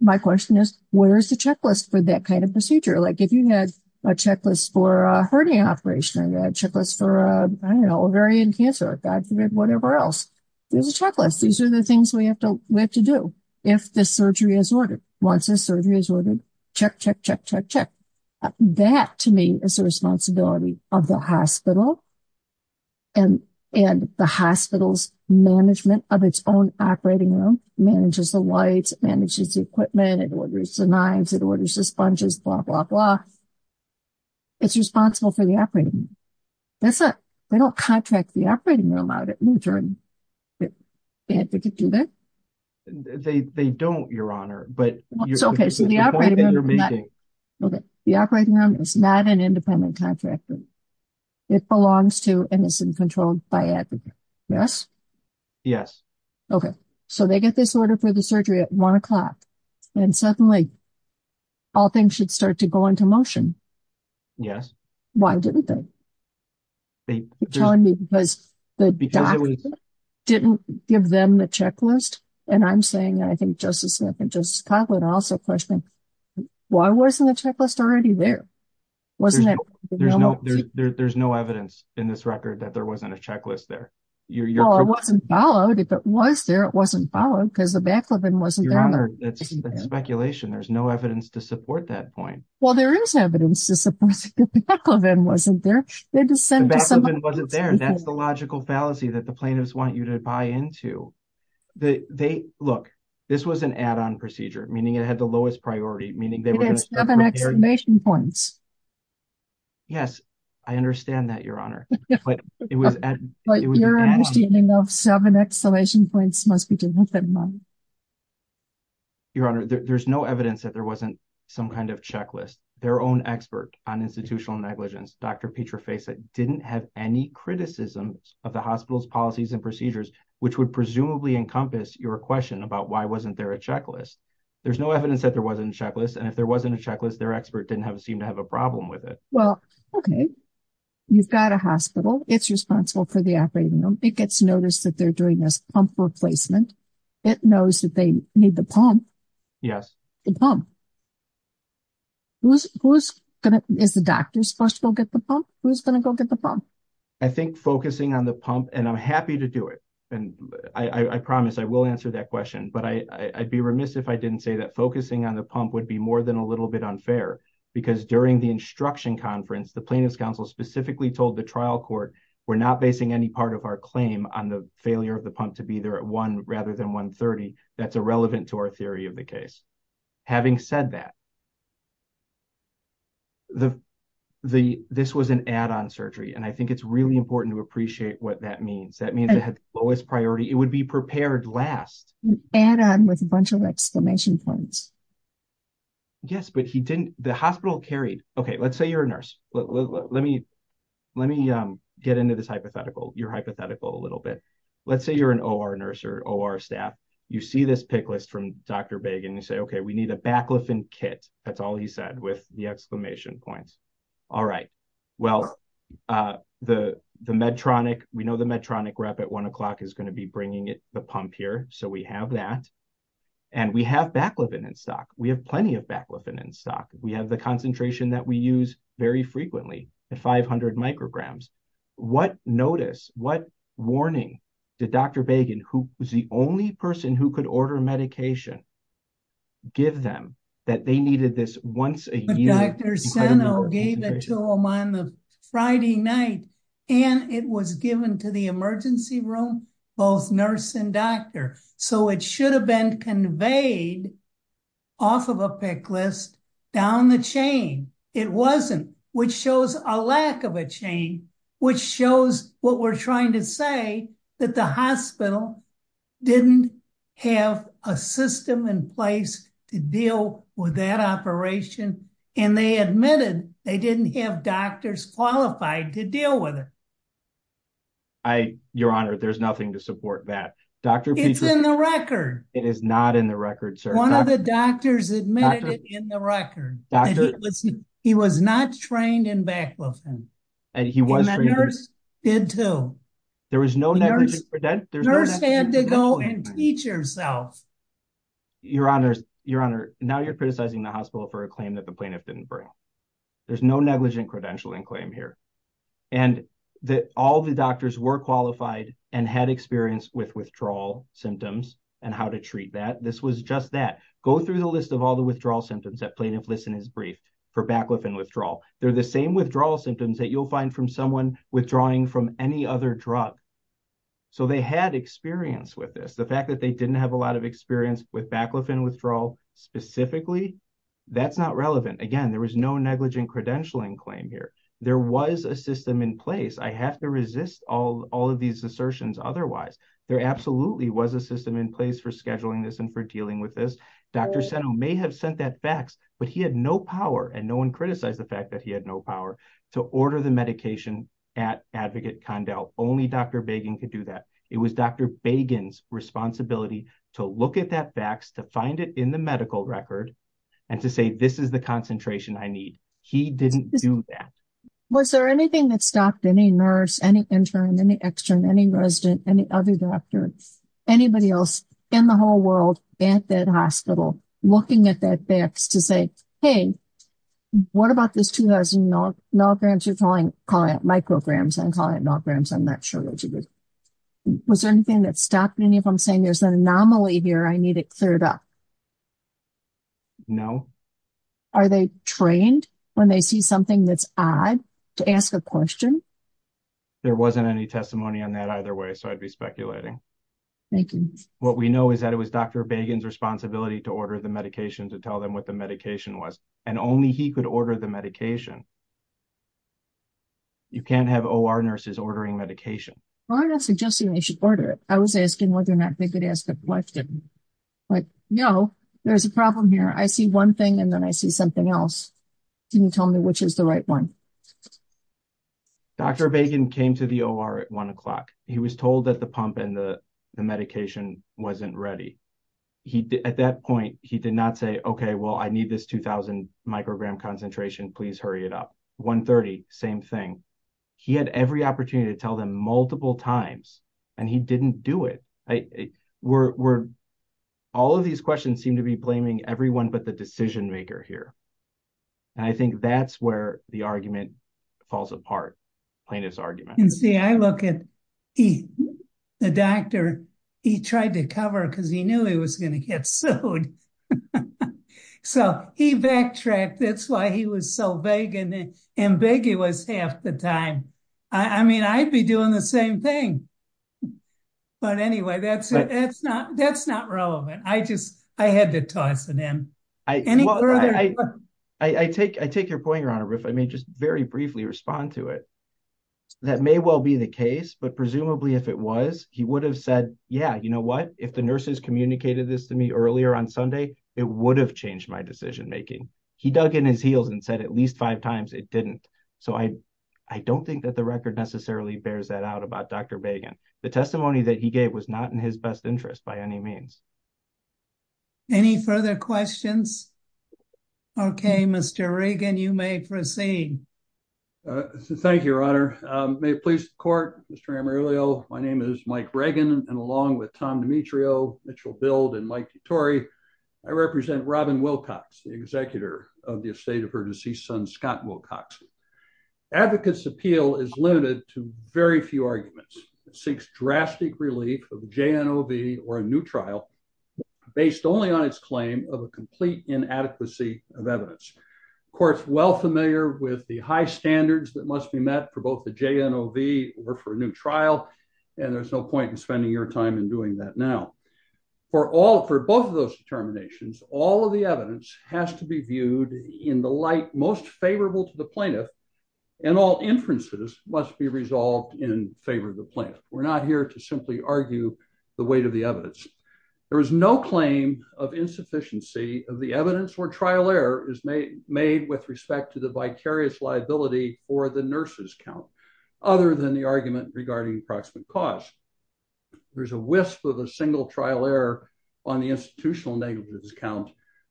My question is, where is the checklist for that kind of procedure? Like, if you had a checklist for a hernia operation or a checklist for, I don't know, ovarian cancer or whatever else. There's a checklist. These are the things we have to do if the surgery is ordered. Once the surgery is ordered, check, check, check, check, check. That, to me, is the responsibility of the hospital and the hospital's management of its own operating room. It manages the lights, it manages the equipment, it orders the knives, it orders the sponges, blah, blah, blah. It's responsible for the operating room. They don't contract the operating room out at noon time. They have to do this? They don't, Your Honor. It's okay. Okay. The operating room is not an independent contractor. It belongs to and is in control by advocates. Yes? Yes. Okay. So they get this order for the surgery at 1 o'clock and suddenly all things should start to go into motion. Yes. Why didn't they? You're telling me because the doctor didn't give them the checklist? And I'm saying, and I think Justice Smith and Justice Kotlin are also questioning, why wasn't the checklist already there? Wasn't it? There's no evidence in this record that there wasn't a checklist there. Well, it wasn't followed. If it was there, it wasn't followed because the backlog wasn't there. Your Honor, that's speculation. There's no evidence to support that point. Well, there is evidence to support that the backlog wasn't there. The backlog wasn't there. That's the logical fallacy that the plaintiffs want you to buy into. Look, this was an add-on procedure, meaning it had the lowest priority. It had seven exclamation points. Yes, I understand that, Your Honor. But your understanding of seven exclamation points must be different than mine. Your Honor, there's no evidence that there wasn't some kind of checklist. Their own expert on institutional negligence, Dr. Petra Faisett, didn't have any criticism of the hospital's policies and procedures, which would presumably encompass your question about why wasn't there a checklist. There's no evidence that there wasn't a checklist, and if there wasn't a checklist, their expert didn't seem to have a problem with it. Well, okay. You've got a hospital. It's responsible for the operating room. It gets noticed that they're doing this pump replacement. It knows that they need the pump. Yes. The pump. Is the doctor supposed to go get the pump? Who's going to go get the pump? I think focusing on the pump, and I'm happy to do it. I promise I will answer that question, but I'd be remiss if I didn't say that focusing on the pump would be more than a little bit unfair, because during the instruction conference, the plaintiff's counsel specifically told the trial court, we're not basing any part of our claim on the failure of the pump to be there at 1 rather than 1.30. That's irrelevant to our theory of the case. Having said that, this was an add-on surgery, and I think it's really important to appreciate what that means. That means it has lowest priority. It would be prepared last. And with a bunch of exclamation points. Yes, but he didn't. The hospital carried. Okay, let's say you're a nurse. Let me get into this hypothetical, your hypothetical a little bit. Let's say you're an OR nurse or OR staff. You see this pick list from Dr. Bagan. You say, okay, we need a baclofen kit. That's all he said with the exclamation points. All right. Well, the Medtronic, we know the Medtronic rep at 1 o'clock is going to be bringing the pump here, so we have that. And we have baclofen in stock. We have plenty of baclofen in stock. We have the concentration that we use very frequently at 500 micrograms. What notice, what warning did Dr. Bagan, who was the only person who could order medication, give them that they needed this once a year? Dr. Seno gave it to him on the Friday night, and it was given to the emergency room, both nurse and doctor. So it should have been conveyed off of a pick list down the chain. It wasn't, which shows a lack of a chain, which shows what we're trying to say, that the hospital didn't have a system in place to deal with that operation. And they admitted they didn't have doctors qualified to deal with it. Your Honor, there's nothing to support that. It's in the record. It is not in the record, sir. One of the doctors admitted it in the record. He was not trained in baclofen. And the nurse did too. There was no negligence. The nurse had to go and teach herself. Your Honor, now you're criticizing the hospital for a claim that the plaintiff didn't bring. There's no negligent credentialing claim here. And all the doctors were qualified and had experience with withdrawal symptoms and how to treat that. This was just that. Go through the list of all the withdrawal symptoms that plaintiff lists in his brief for baclofen withdrawal. They're the same withdrawal symptoms that you'll find from someone withdrawing from any other drug. So they had experience with this. The fact that they didn't have a lot of experience with baclofen withdrawal specifically, that's not relevant. Again, there was no negligent credentialing claim here. There was a system in place. I have to resist all of these assertions otherwise. There absolutely was a system in place for scheduling this and for dealing with this. Dr. Seno may have sent that fax, but he had no power, and no one criticized the fact that he had no power, to order the medication at Advocate Condell. Only Dr. Bagan could do that. It was Dr. Bagan's responsibility to look at that fax, to find it in the medical record, and to say, this is the concentration I need. He didn't do that. Was there anything that stopped any nurse, any intern, any extern, any resident, any other doctor, anybody else in the whole world, at that hospital, looking at that fax to say, hey, what about this 2,000 milligrams? You're calling it micrograms. I'm calling it milligrams. I'm not sure what you did. Was there anything that stopped any of them saying, there's an anomaly here. I need it cleared up? No. Are they trained, when they see something that's odd, to ask a question? There wasn't any testimony on that either way, so I'd be speculating. Thank you. What we know is that it was Dr. Bagan's responsibility to order the medication, to tell them what the medication was. And only he could order the medication. You can't have OR nurses ordering medication. I was asking whether or not they could ask a question. Like, no, there's a problem here. I see one thing, and then I see something else. Can you tell me which is the right one? Dr. Bagan came to the OR at 1 o'clock. He was told that the pump and the medication wasn't ready. At that point, he did not say, okay, well, I need this 2,000-microgram concentration. Please hurry it up. 1.30, same thing. He had every opportunity to tell them multiple times, and he didn't do it. All of these questions seem to be blaming everyone but the decision-maker here. And I think that's where the argument falls apart, Plaintiff's argument. You see, I look at the doctor. He tried to cover it because he knew he was going to get sued. So he backtracked. That's why he was so vague and ambiguous half the time. I mean, I'd be doing the same thing. But anyway, that's not relevant. I had to talk to them. I take your point, Your Honor, if I may just very briefly respond to it. That may well be the case, but presumably if it was, he would have said, yeah, you know what? If the nurses communicated this to me earlier on Sunday, it would have changed my decision-making. He dug in his heels and said at least five times it didn't. So I don't think that the record necessarily bears that out about Dr. Reagan. The testimony that he gave was not in his best interest by any means. Any further questions? Okay, Mr. Reagan, you may proceed. Thank you, Your Honor. May it please the Court, Mr. Amarillo. My name is Mike Reagan, and along with Tom Dimitrio, Mitchell Bild, and Mike Vittori, I represent Robin Wilcox, the executor of the estate of her deceased son, Scott Wilcox. Advocates' appeal is limited to very few arguments. It seeks drastic relief of the JNOV or a new trial based only on its claim of a complete inadequacy of evidence. The Court is well familiar with the high standards that must be met for both the JNOV or for a new trial, and there's no point in spending your time in doing that now. For both of those determinations, all of the evidence has to be viewed in the light most favorable to the plaintiff, and all inferences must be resolved in favor of the plaintiff. We're not here to simply argue the weight of the evidence. There is no claim of insufficiency of the evidence where trial error is made with respect to the vicarious liability or the nurse's count, other than the argument regarding approximate cause. There's a wisp of a single trial error on the institutional negative of the count,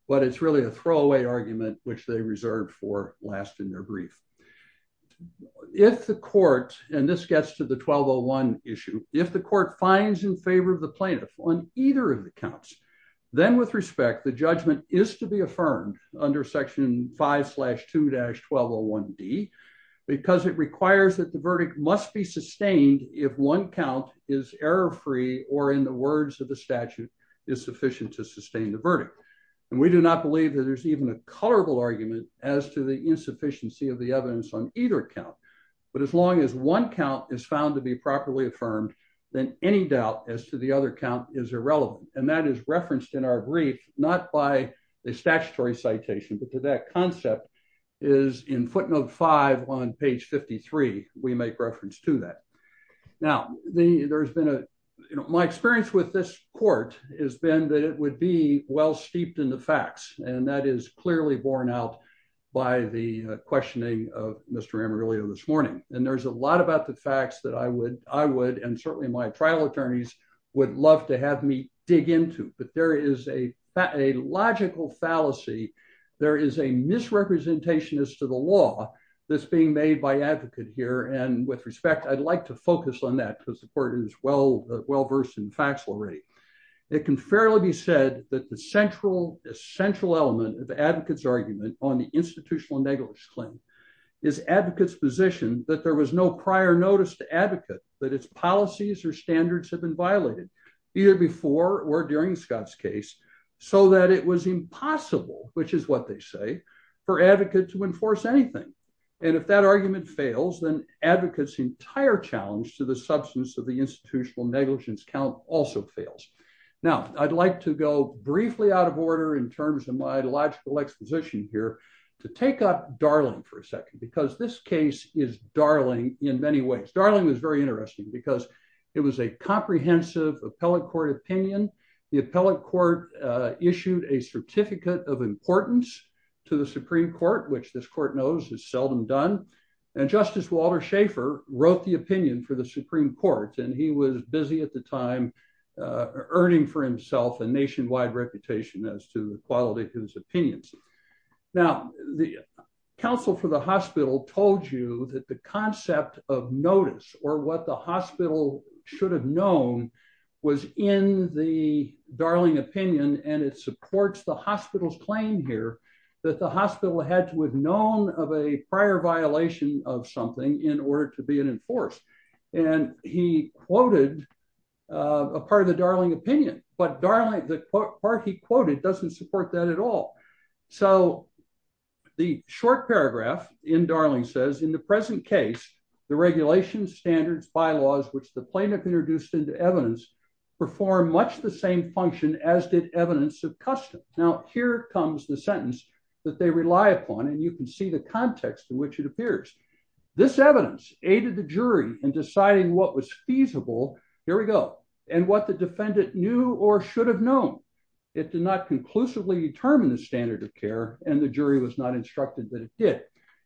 but it's really a throwaway argument which they reserved for last in their brief. If the Court, and this gets to the 1201 issue, if the Court finds in favor of the plaintiff on either of the counts, then with respect, the judgment is to be affirmed under section 5-2-1201D, because it requires that the verdict must be sustained if one count is error-free or, in the words of the statute, is sufficient to sustain the verdict. And we do not believe that there's even a colorable argument as to the insufficiency of the evidence on either count, but as long as one count is found to be properly affirmed, then any doubt as to the other count is irrelevant, and that is referenced in our brief, not by a statutory citation, but that concept is in footnote 5 on page 53. We make reference to that. Now, my experience with this Court has been that it would be well-steeped in the facts, and that is clearly borne out by the questioning of Mr. Amarillo this morning, and there's a lot about the facts that I would, and certainly my trial attorneys, would love to have me dig into, but there is a logical fallacy. There is a misrepresentation as to the law that's being made by advocate here, and with respect, I'd like to focus on that because the Court is well-versed in faxlery. It can fairly be said that the central element of the advocate's argument on the institutional negligence claim is advocate's position that there was no prior notice to advocate that its policies or standards have been violated, either before or during Scott's case, so that it was impossible, which is what they say, for advocate to enforce anything, and if that argument fails, then advocate's entire challenge to the substance of the institutional negligence count also fails. Now, I'd like to go briefly out of order in terms of my logical exposition here to take up Darling for a second, because this case is Darling in many ways. Darling was very interesting because it was a comprehensive appellate court opinion. The appellate court issued a certificate of importance to the Supreme Court, which this Court knows is seldom done, and Justice Walter Schaeffer wrote the opinion for the Supreme Court, and he was busy at the time earning for himself a nationwide reputation as to the quality of his opinions. Now, the counsel for the hospital told you that the concept of notice, or what the hospital should have known, was in the Darling opinion, and it supports the hospital's claim here that the hospital had to have known of a prior violation of something in order to be enforced, and he quoted a part of the Darling opinion, but the part he quoted doesn't support that at all. So the short paragraph in Darling says, In the present case, the regulations, standards, bylaws, which the plaintiff introduced into evidence, perform much the same function as did evidence of custom. Now, here comes the sentence that they rely upon, and you can see the context in which it appears. This evidence aided the jury in deciding what was feasible, here we go, and what the defendant knew or should have known. It did not conclusively determine the standard of care, and the jury was not instructed that it did.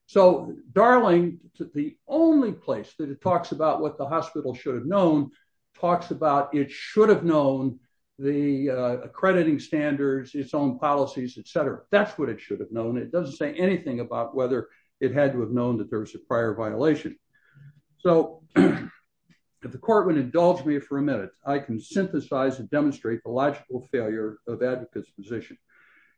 So Darling, the only place that it talks about what the hospital should have known, talks about it should have known the accrediting standards, its own policies, et cetera. That's what it should have known. It doesn't say anything about whether it had to have known that there was a prior violation. So if the court would indulge me for a minute, I can synthesize and demonstrate the logical failure of advocates' position.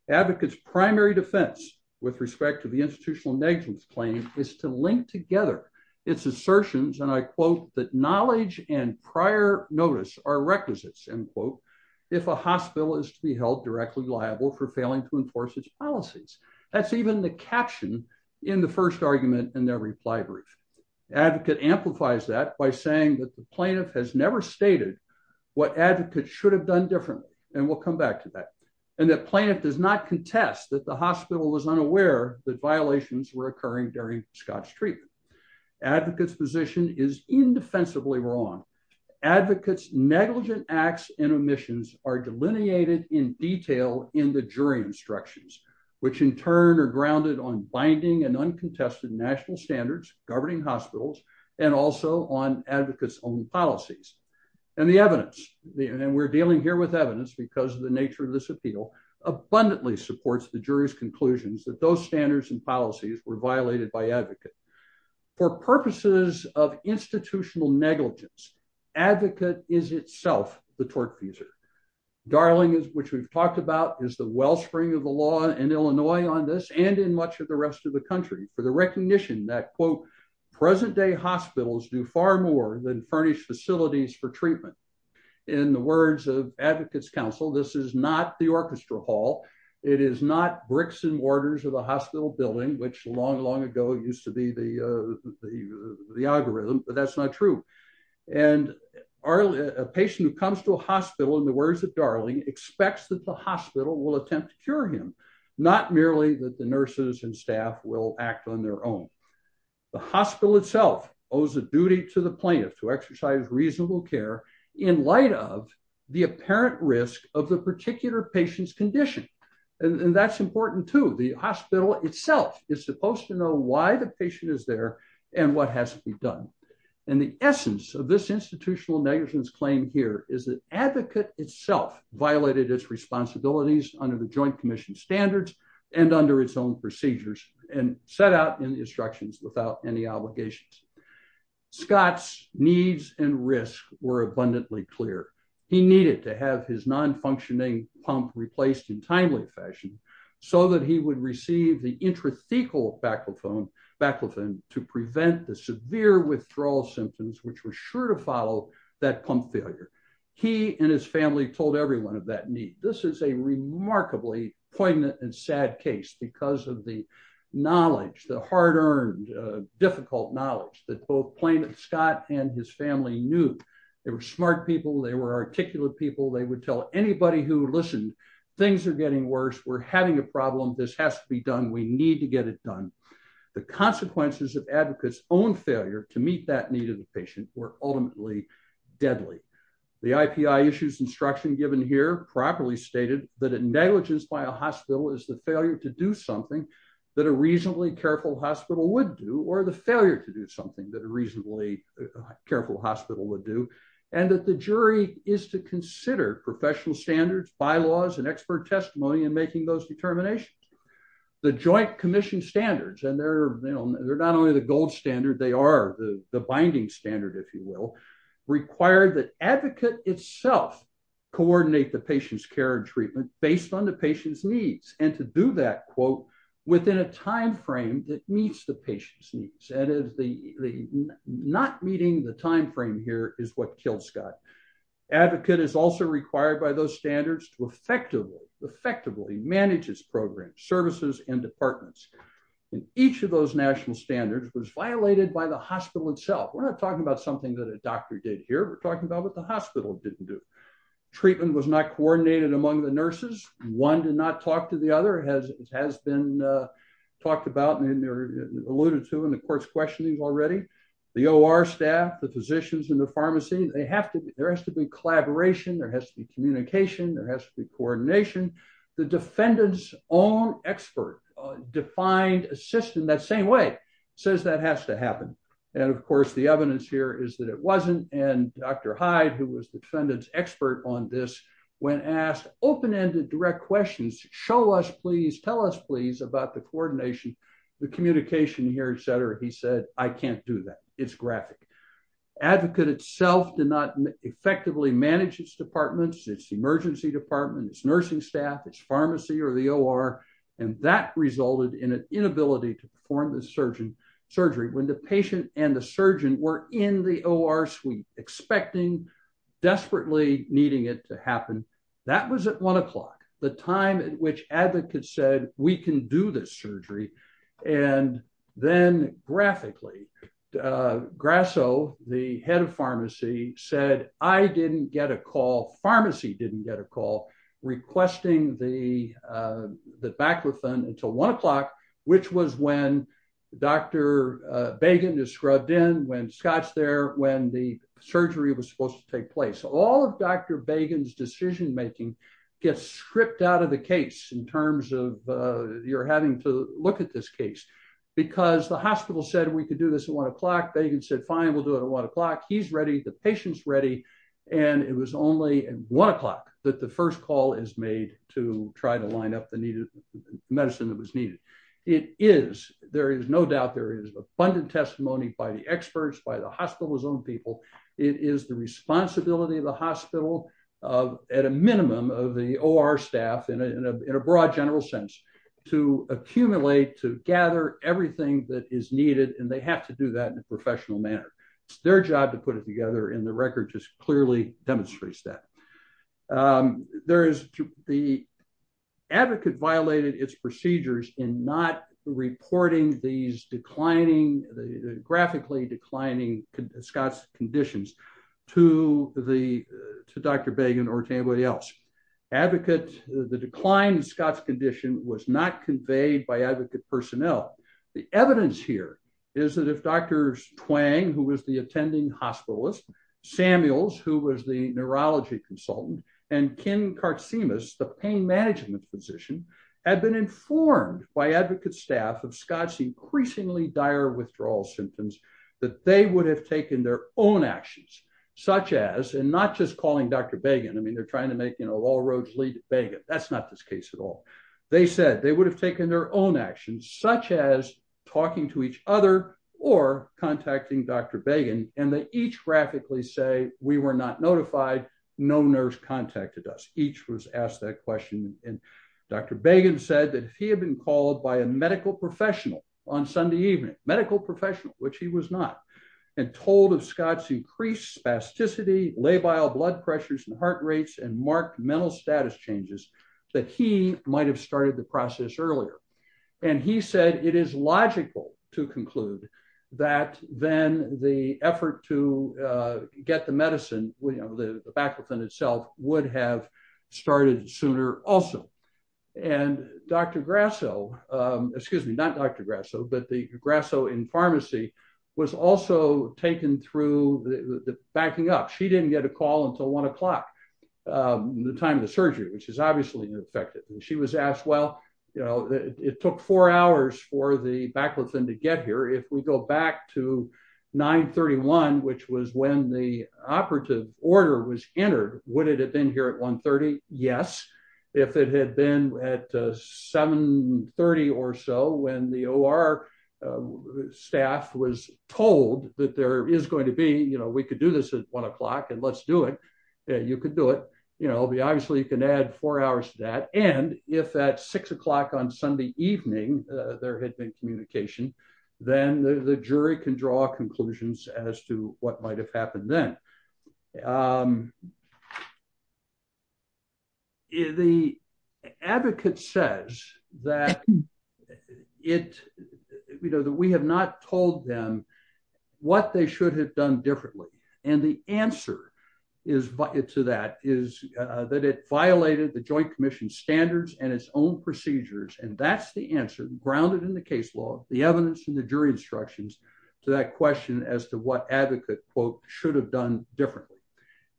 Advocates' primary defense with respect to the institutional negligence claim is to link together its assertions, and I quote, that knowledge and prior notice are requisites, end quote, if a hospital is to be held directly liable for failing to enforce its policies. That's even the caption in the first argument in their reply brief. Advocate amplifies that by saying that the plaintiff has never stated what advocates should have done differently, and we'll come back to that, and the plaintiff does not contest that the hospital was unaware that violations were occurring during Scott's treatment. Advocates' position is indefensibly wrong. Advocates' negligent acts and omissions are delineated in detail in the jury instructions, which in turn are grounded on binding and uncontested national standards governing hospitals and also on advocates' own policies. And the evidence, and we're dealing here with evidence because of the nature of this appeal, abundantly supports the jury's conclusions that those standards and policies were violated by advocates. For purposes of institutional negligence, advocate is itself the tort teaser. Darling, which we've talked about, is the wellspring of the law in Illinois on this and in much of the rest of the country for the recognition that, quote, present day hospitals do far more than furnish facilities for treatment. In the words of advocates' counsel, this is not the orchestra hall. It is not bricks and mortars of a hospital building, which long, long ago used to be the algorithm, but that's not true. And a patient who comes to a hospital, in the words of Darling, expects that the hospital will attempt to cure him, not merely that the nurses and staff will act on their own. The hospital itself owes a duty to the plaintiff to exercise reasonable care in light of the apparent risk of the particular patient's condition. And that's important, too. The hospital itself is supposed to know why the patient is there and what has to be done. And the essence of this institutional negligence claim here is that advocate itself violated its responsibilities under the Joint Commission standards and under its own procedures and set out in the instructions without any obligations. Scott's needs and risks were abundantly clear. He needed to have his non-functioning pump replaced in timely fashion so that he would receive the intrathecal baclofen to prevent the severe withdrawal symptoms, which were sure to follow that pump failure. He and his family told everyone of that need. This is a remarkably poignant and sad case because of the knowledge, the hard-earned, difficult knowledge that both Plaintiff Scott and his family knew. They were smart people. They were articulate people. They would tell anybody who listened, things are getting worse. We're having a problem. This has to be done. We need to get it done. The consequences of advocate's own failure to meet that need of the patient were ultimately deadly. The IPI issues instruction given here properly stated that a negligence by a hospital is the failure to do something that a reasonably careful hospital would do or the failure to do something that a reasonably careful hospital would do, and that the jury is to consider professional standards, bylaws, and expert testimony in making those determinations. The Joint Commission standards, and they're not only the gold standard, they are the binding standard, if you will, required that advocate itself coordinate the patient's care and treatment based on the patient's needs and to do that, quote, within a timeframe that meets the patient's needs. That is, not meeting the timeframe here is what killed Scott. Advocate is also required by those standards to effectively manage his program, services, and departments. Each of those national standards was violated by the hospital itself. We're not talking about something that a doctor did here. We're talking about what the hospital didn't do. Treatment was not coordinated among the nurses. One did not talk to the other. It has been talked about and alluded to in the court's questioning already. The OR staff, the physicians in the pharmacy, there has to be collaboration. There has to be communication. There has to be coordination. The defendant's own expert defined a system that same way, says that has to happen. And, of course, the evidence here is that it wasn't. And Dr. Hyde, who was the defendant's expert on this, when asked open-ended direct questions, show us, please, tell us, please, about the coordination, the communication here, et cetera, he said, I can't do that. It's graphic. Advocate itself did not effectively manage its departments, its emergency department, its nursing staff, its pharmacy or the OR, and that resulted in an inability to perform the surgery. When the patient and the surgeon were in the OR suite expecting, desperately needing it to happen, that was at 1 o'clock, the time at which Advocate said, we can do this surgery. And then, graphically, Grasso, the head of pharmacy, said, I didn't get a call, pharmacy didn't get a call requesting the baclofen until 1 o'clock, which was when Dr. Bagen is scrubbed in, when Scott's there, when the surgery was supposed to take place. All of Dr. Bagen's decision-making gets stripped out of the case in terms of you're having to look at this case, because the hospital said we could do this at 1 o'clock, Bagen said, fine, we'll do it at 1 o'clock, he's ready, the patient's ready, and it was only at 1 o'clock that the first call is made to try to line up the medicine that was needed. It is, there is no doubt, there is abundant testimony by the experts, by the hospital's own people, it is the responsibility of the hospital, at a minimum of the OR staff, in a broad general sense, to accumulate, to gather everything that is needed, and they have to do that in a professional manner. It's their job to put it together, and the record just clearly demonstrates that. There is, the advocate violated its procedures in not reporting these declining, graphically declining Scott's conditions to Dr. Bagen or to anybody else. Advocates, the declined Scott's condition was not conveyed by advocate personnel. The evidence here is that if Dr. Twang, who was the attending hospitalist, Samuels, who was the neurology consultant, and Ken Karcimas, the pain management physician, had been informed by advocate staff of Scott's increasingly dire withdrawal symptoms, that they would have taken their own actions, such as, and not just calling Dr. Bagen, I mean, they're trying to make, you know, all roads lead to Bagen, that's not this case at all. They said they would have taken their own actions, such as talking to each other or contacting Dr. Bagen, and they each graphically say, we were not notified, no nurse contacted us. Each was asked that question, and Dr. Bagen said that if he had been called by a medical professional on Sunday evening, medical professional, which he was not, and told of Scott's increased spasticity, labile blood pressures and heart rates and marked mental status changes, that he might have started the process earlier. And he said it is logical to conclude that then the effort to get the medicine, you know, the baclofen itself, would have started sooner also. And Dr. Grasso, excuse me, not Dr. Grasso, but the Grasso in pharmacy, was also taken through the backing up. She didn't get a call until 1 o'clock, the time of the surgery, which is obviously unexpected. She was asked, well, you know, it took four hours for the baclofen to get here. If we go back to 931, which was when the operative order was entered, would it have been here at 130? Yes. If it had been at 730 or so when the OR staff was told that there is going to be, you know, we could do this at 1 o'clock and let's do it, you could do it. You know, obviously you can add four hours to that. And if at 6 o'clock on Sunday evening there had been communication, then the jury can draw conclusions as to what might have happened then. The advocate says that we have not told them what they should have done differently. And the answer to that is that it violated the Joint Commission standards and its own procedures. And that's the answer grounded in the case law, the evidence and the jury instructions to that question as to what advocate quote should have done differently.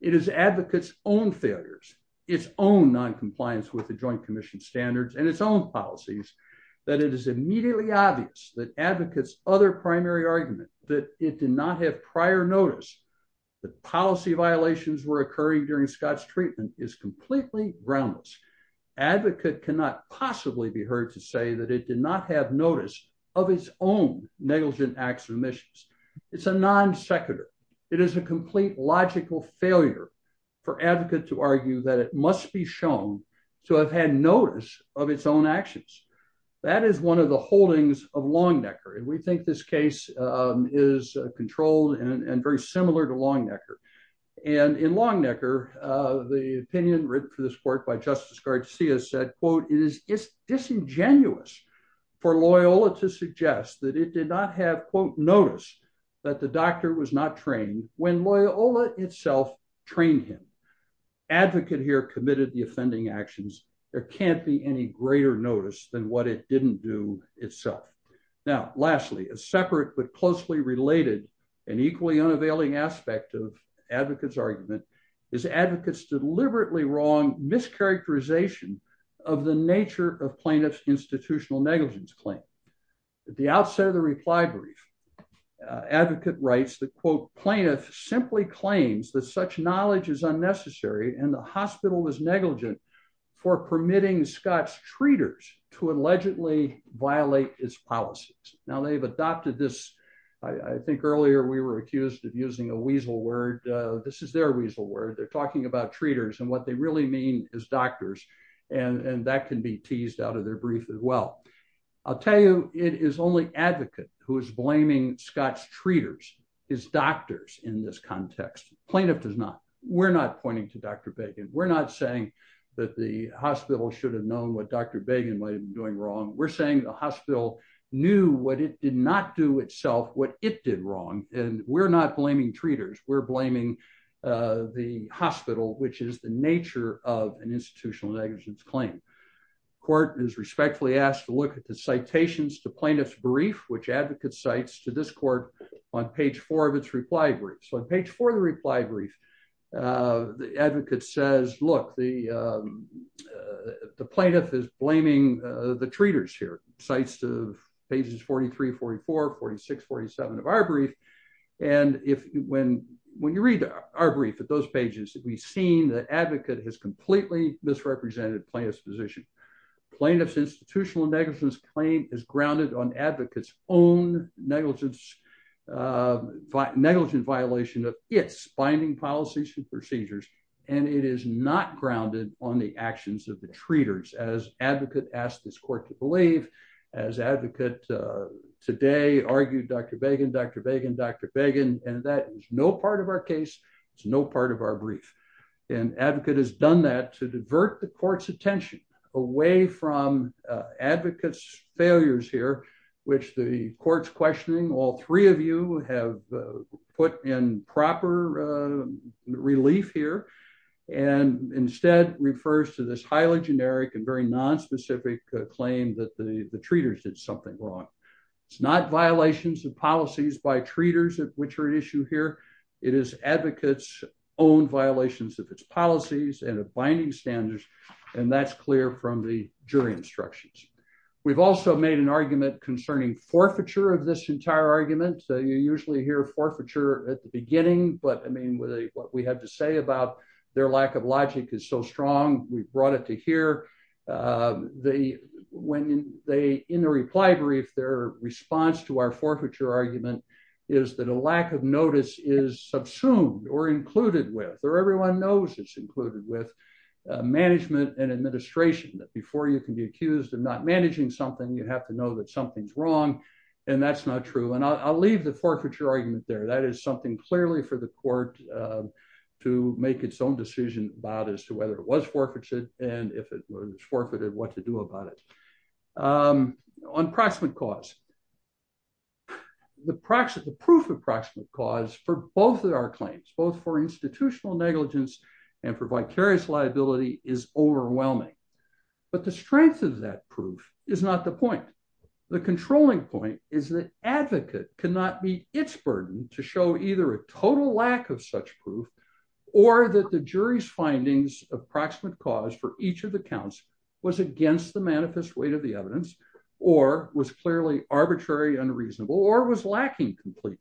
It is advocates own failures, its own noncompliance with the Joint Commission standards and its own policies that it is immediately obvious that advocates other primary argument that it did not have prior notice that policy violations were occurring during Scott's treatment is completely groundless. Advocate cannot possibly be heard to say that it did not have notice of its own negligent acts of omissions. It's a non sequitur. It is a complete logical failure for advocate to argue that it must be shown to have had notice of its own actions. That is one of the holdings of Longnecker. And we think this case is controlled and very similar to Longnecker. And in Longnecker, the opinion written for this court by Justice Garcia said, quote, it is disingenuous for Loyola to suggest that it did not have, quote, notice that the doctor was not trained when Loyola itself trained him. Advocate here committed the offending actions. There can't be any greater notice than what it didn't do itself. Now, lastly, a separate but closely related and equally unavailing aspect of advocate's argument is advocates deliberately wrong mischaracterization of the nature of plaintiff's institutional negligence claim. At the outset of the reply brief, advocate writes that, quote, plaintiff simply claims that such knowledge is unnecessary and the hospital is negligent for permitting Scott's treaters to allegedly violate its policies. Now, they've adopted this. I think earlier we were accused of using a weasel word. This is their weasel word. They're talking about treaters and what they really mean is doctors. And that can be teased out of their brief as well. I'll tell you, it is only advocate who is blaming Scott's treaters, his doctors, in this context. Plaintiff does not. We're not pointing to Dr. We're not saying that the hospital should have known what Dr. might have been doing wrong. We're saying the hospital knew what it did not do itself, what it did wrong. And we're not blaming treaters. We're blaming the hospital, which is the nature of an institutional negligence claim. Court is respectfully asked to look at the citations to plaintiff's brief, which advocate cites to this court on page four of its reply brief. So page four of the reply brief, the advocate says, look, the plaintiff is blaming the treaters here. Cites pages 43, 44, 46, 47 of our brief. And when you read our brief at those pages, we've seen the advocate has completely misrepresented plaintiff's position. Plaintiff's institutional negligence claim is grounded on advocates own negligence, negligent violation of its binding policies and procedures. And it is not grounded on the actions of the treaters as advocate asked this court to believe as advocate today argued Dr. Began, Dr. Began, Dr. Began. And that is no part of our case. It's no part of our brief. And advocate has done that to divert the court's attention away from advocates failures here, which the court's questioning. All three of you have put in proper relief here and instead refers to this highly generic and very non-specific claim that the treaters did something wrong. It's not violations of policies by treaters, which are an issue here. It is advocates own violations of its policies and binding standards. And that's clear from the jury instructions. We've also made an argument concerning forfeiture of this entire argument. So you usually hear forfeiture at the beginning. But I mean, what we had to say about their lack of logic is so strong. We've brought it to here. In the reply brief, their response to our forfeiture argument is that a lack of notice is subsumed or included with, or everyone knows it's included with, management and administration. Before you can be accused of not managing something, you have to know that something's wrong. And that's not true. And I'll leave the forfeiture argument there. That is something clearly for the court to make its own decision about as to whether it was forfeited and if it was forfeited, what to do about it. On proximate cause. The proof of proximate cause for both of our claims, both for institutional negligence and for vicarious liability is overwhelming. But the strength of that proof is not the point. The controlling point is that advocate cannot be its burden to show either a total lack of such proof, or that the jury's findings of proximate cause for each of the counts was against the manifest weight of the evidence, or was clearly arbitrary, unreasonable, or was lacking completely.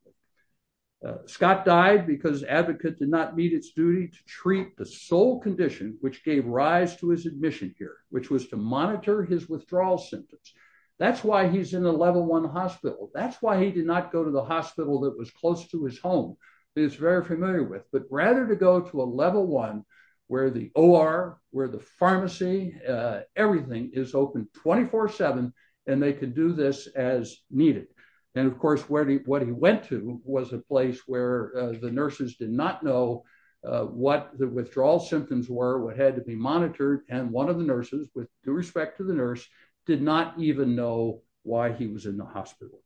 Scott died because advocate did not meet its duty to treat the sole condition which gave rise to his admission here, which was to monitor his withdrawal symptoms. That's why he's in a level one hospital. That's why he did not go to the hospital that was close to his home. He's very familiar with. But rather to go to a level one, where the OR, where the pharmacy, everything is open 24-7, and they can do this as needed. And of course, what he went to was a place where the nurses did not know what the withdrawal symptoms were, what had to be monitored, and one of the nurses, with due respect to the nurse, did not even know why he was in the hospital.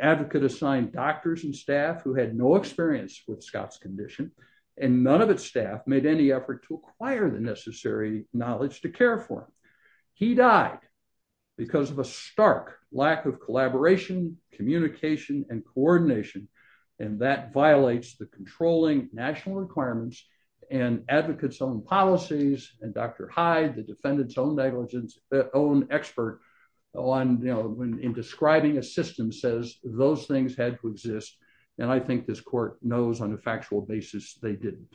Advocate assigned doctors and staff who had no experience with Scott's condition, and none of its staff made any effort to acquire the necessary knowledge to care for him. He died because of a stark lack of collaboration, communication, and coordination, and that violates the controlling national requirements and advocates' own policies. And Dr. Hyde, the defendant's own negligence, own expert in describing assistance, says those things had to exist, and I think this court knows on a factual basis they didn't.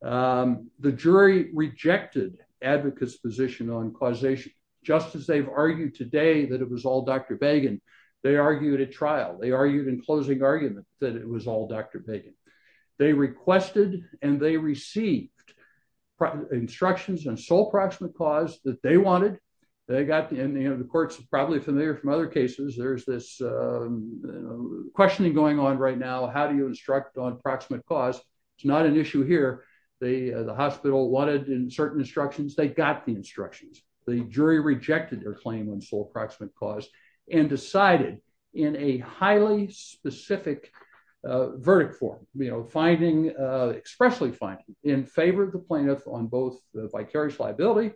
The jury rejected advocates' position on causation, just as they've argued today that it was all Dr. Bagan. They argued at trial. They argued in closing arguments that it was all Dr. Bagan. They requested and they received instructions on sole proximate cause that they wanted, and the court's probably familiar from other cases. There's this questioning going on right now, how do you instruct on proximate cause? It's not an issue here. The hospital wanted certain instructions. They got the instructions. The jury rejected their claim on sole proximate cause and decided in a highly specific verdict form, finding, expressly finding, in favor of the plaintiff on both the vicarious liability,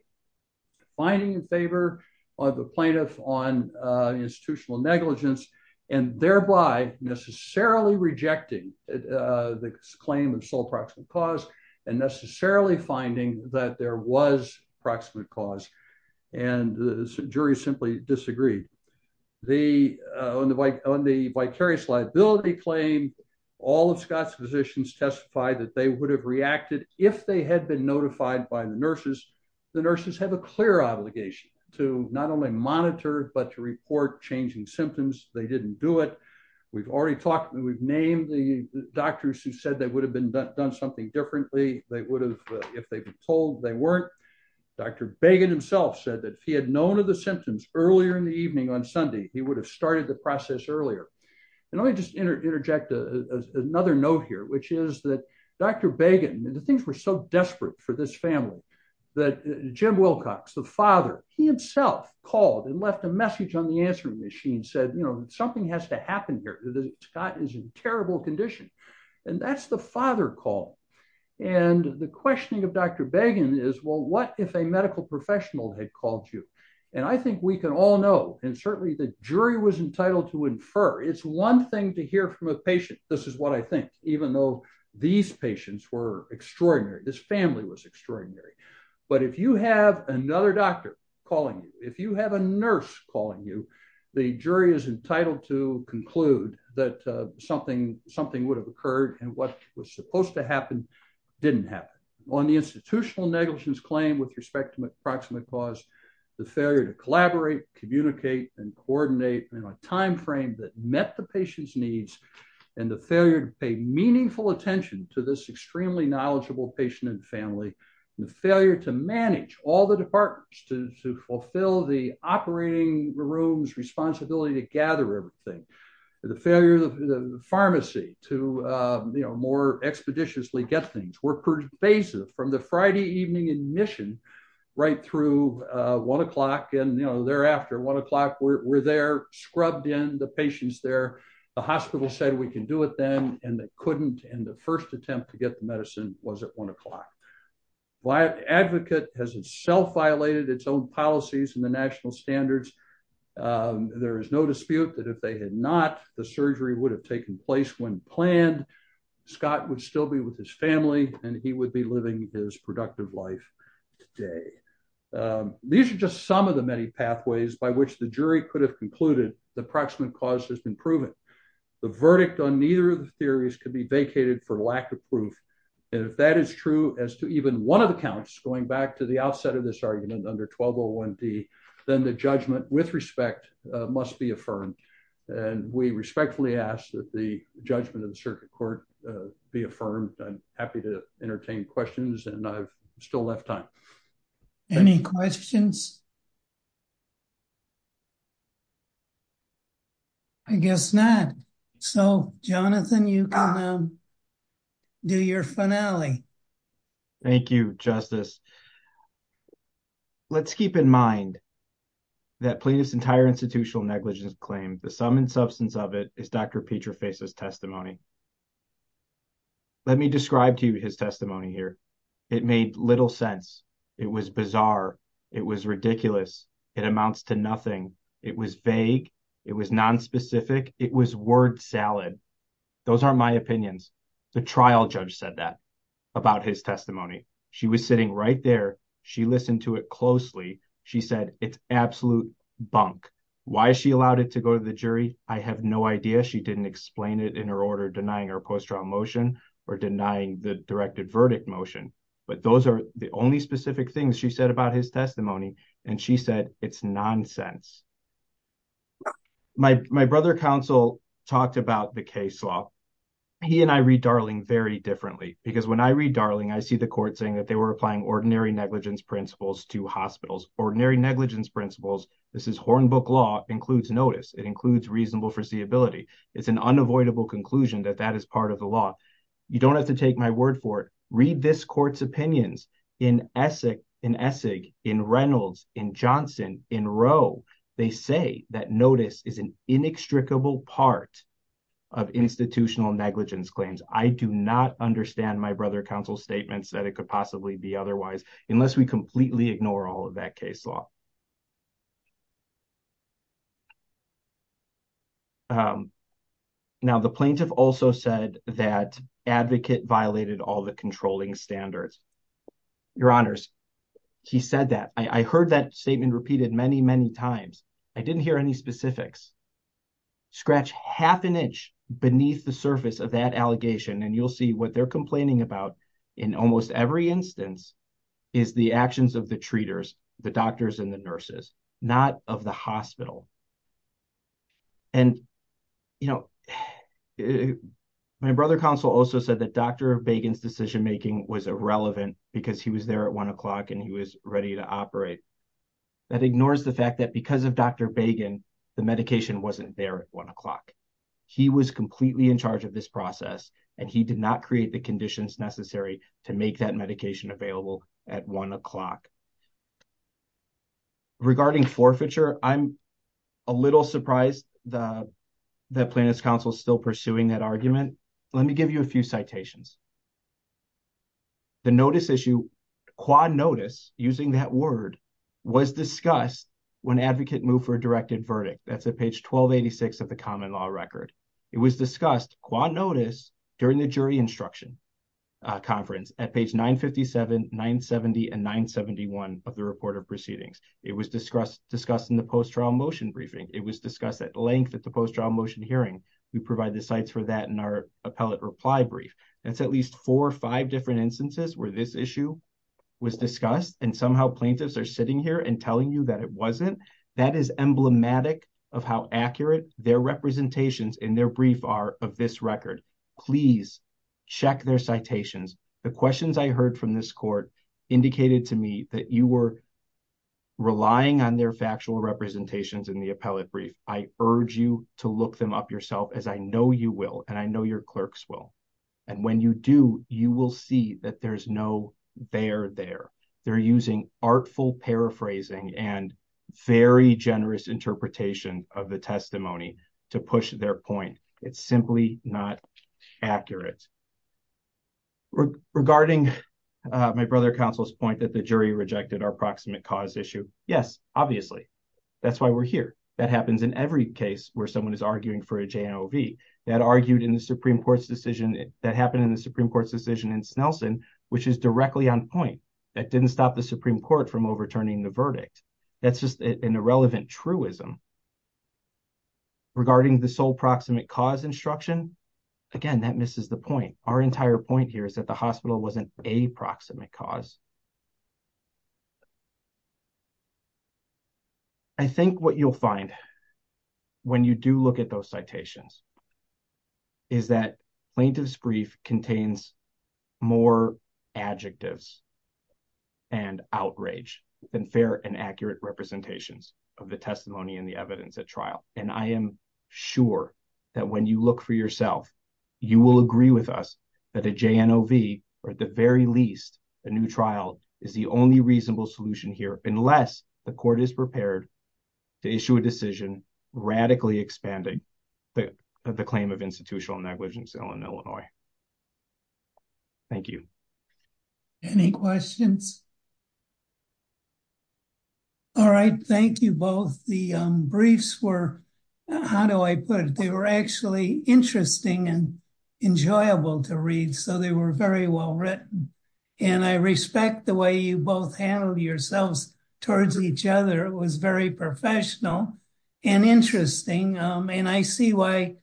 finding in favor of the plaintiff on institutional negligence, and thereby necessarily rejecting the claim of sole proximate cause and necessarily finding that there was proximate cause, and the jury simply disagreed. On the vicarious liability claim, all of Scott's physicians testified that they would have reacted if they had been notified by the nurses. The nurses had a clear obligation to not only monitor but to report changing symptoms. They didn't do it. We've already talked, we've named the doctors who said they would have done something differently. They would have, if they were told, they weren't. Dr. Bagan himself said that if he had known of the symptoms earlier in the evening on Sunday, he would have started the process earlier. Let me just interject another note here, which is that Dr. Bagan, the things were so desperate for this family, that Jim Wilcox, the father, he himself called and left a message on the answering machine, said, you know, something has to happen here. Scott is in terrible condition. And that's the father call. And the questioning of Dr. Bagan is, well, what if a medical professional had called you? And I think we can all know, and certainly the jury was entitled to infer, it's one thing to hear from a patient, this is what I think, even though these patients were extraordinary, this family was extraordinary. But if you have another doctor calling you, if you have a nurse calling you, the jury is entitled to conclude that something would have occurred and what was supposed to happen didn't happen. On the institutional negligence claim with respect to the approximate cause, the failure to collaborate, communicate, and coordinate in a timeframe that met the patient's needs, and the failure to pay meaningful attention to this extremely knowledgeable patient and family, the failure to manage all the departments to fulfill the operating room's responsibility to gather everything, the failure of the pharmacy to, you know, more expeditiously get things, were pervasive from the Friday evening admission right through 1 o'clock, and, you know, thereafter, 1 o'clock, we're there, scrubbed in, the patient's there, the hospital said we can do it then, and they couldn't, and the first attempt to get the medicine was at 1 o'clock. Advocate has itself violated its own policies and the national standards. There is no dispute that if they had not, the surgery would have taken place when planned, Scott would still be with his family, and he would be living his productive life today. These are just some of the many pathways by which the jury could have concluded the approximate cause has been proven. The verdict on neither of the theories could be vacated for lack of proof, and if that is true as to even one of the counts, going back to the outset of this argument under 1201D, then the judgment with respect must be affirmed, and we respectfully ask that the judgment of the circuit court be affirmed. Thank you, Justice. I'm happy to entertain questions, and I've still left time. Any questions? I guess not. So, Jonathan, you can do your finale. Thank you, Justice. Let's keep in mind that police entire institutional negligence claim, the sum and substance of it is Dr. Petra faces testimony. Let me describe to you his testimony here. It made little sense. It was bizarre. It was ridiculous. It amounts to nothing. It was vague. It was non specific. It was word salad. Those are my opinions. The trial judge said that about his testimony. She was sitting right there. She listened to it closely. She said it's absolute bunk. Why she allowed it to go to the jury, I have no idea. She didn't explain it in her order denying her post trial motion or denying the directed verdict motion, but those are the only specific things she said about his testimony, and she said it's nonsense. My brother counsel talked about the case law. He and I read Darling very differently because when I read Darling, I see the court saying that they were applying ordinary negligence principles to hospitals, ordinary negligence principles. This is horn book law includes notice. It includes reasonable foreseeability. It's an unavoidable conclusion that that is part of the law. You don't have to take my word for it. Read this court's opinions in Essex, in Essex, in Reynolds, in Johnson, in Roe. They say that notice is an inextricable part of institutional negligence claims. I do not understand my brother counsel's statements that it could possibly be otherwise, unless we completely ignore all of that case law. Now, the plaintiff also said that advocate violated all the controlling standards. Your honors, she said that I heard that statement repeated many, many times. I didn't hear any specifics. Scratch half an inch beneath the surface of that allegation, and you'll see what they're complaining about in almost every instance is the actions of the treaters, the doctors, and the nurses, not of the hospital. And, you know, my brother counsel also said that Dr. Bacon's decision making was irrelevant because he was there at 1 o'clock and he was ready to operate. That ignores the fact that because of Dr. Bacon, the medication wasn't there at 1 o'clock. He was completely in charge of this process, and he did not create the conditions necessary to make that medication available at 1 o'clock. Regarding forfeiture, I'm a little surprised that the plaintiff's counsel is still pursuing that argument. Let me give you a few citations. The notice issue, quad notice, using that word, was discussed when advocate moved for a directed verdict. That's at page 1286 of the common law record. It was discussed, quad notice, during the jury instruction conference at page 957, 970, and 971 of the report of proceedings. It was discussed in the post-trial motion briefing. It was discussed at length at the post-trial motion hearing. We provide the sites for that in our appellate reply brief. That's at least four or five different instances where this issue was discussed, and somehow plaintiffs are sitting here and telling you that it wasn't. That is emblematic of how accurate their representations in their brief are of this record. Please check their citations. The questions I heard from this court indicated to me that you were relying on their factual representations in the appellate brief. I urge you to look them up yourself, as I know you will, and I know your clerks will. And when you do, you will see that there's no there there. They're using artful paraphrasing and very generous interpretation of the testimony to push their point. It's simply not accurate. Regarding my brother counsel's point that the jury rejected our proximate cause issue, yes, obviously. That's why we're here. That happens in every case where someone is arguing for a JNOV. That argued in the Supreme Court's decision that happened in the Supreme Court's decision in Snelson, which is directly on point. That didn't stop the Supreme Court from overturning the verdict. That's just an irrelevant truism. Regarding the sole proximate cause instruction, again, that misses the point. Our entire point here is that the hospital wasn't a proximate cause. I think what you'll find when you do look at those citations. Is that plaintiff's brief contains more adjectives and outrage than fair and accurate representations of the testimony and the evidence at trial. And I am sure that when you look for yourself, you will agree with us that a JNOV, or at the very least, a new trial is the only reasonable solution here. Unless the court is prepared to issue a decision radically expanding the claim of institutional negligence in Illinois. Thank you. Any questions? All right. Thank you both. The briefs were, how do I put it? They were actually interesting and enjoyable to read. So they were very well written. And I respect the way you both handled yourselves towards each other. It was very professional and interesting. And I see why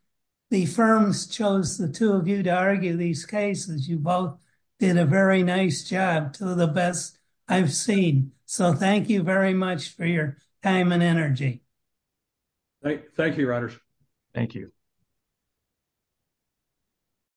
the firms chose the two of you to argue these cases. You both did a very nice job. Two of the best I've seen. So thank you very much for your time and energy. Thank you, Rogers. Thank you.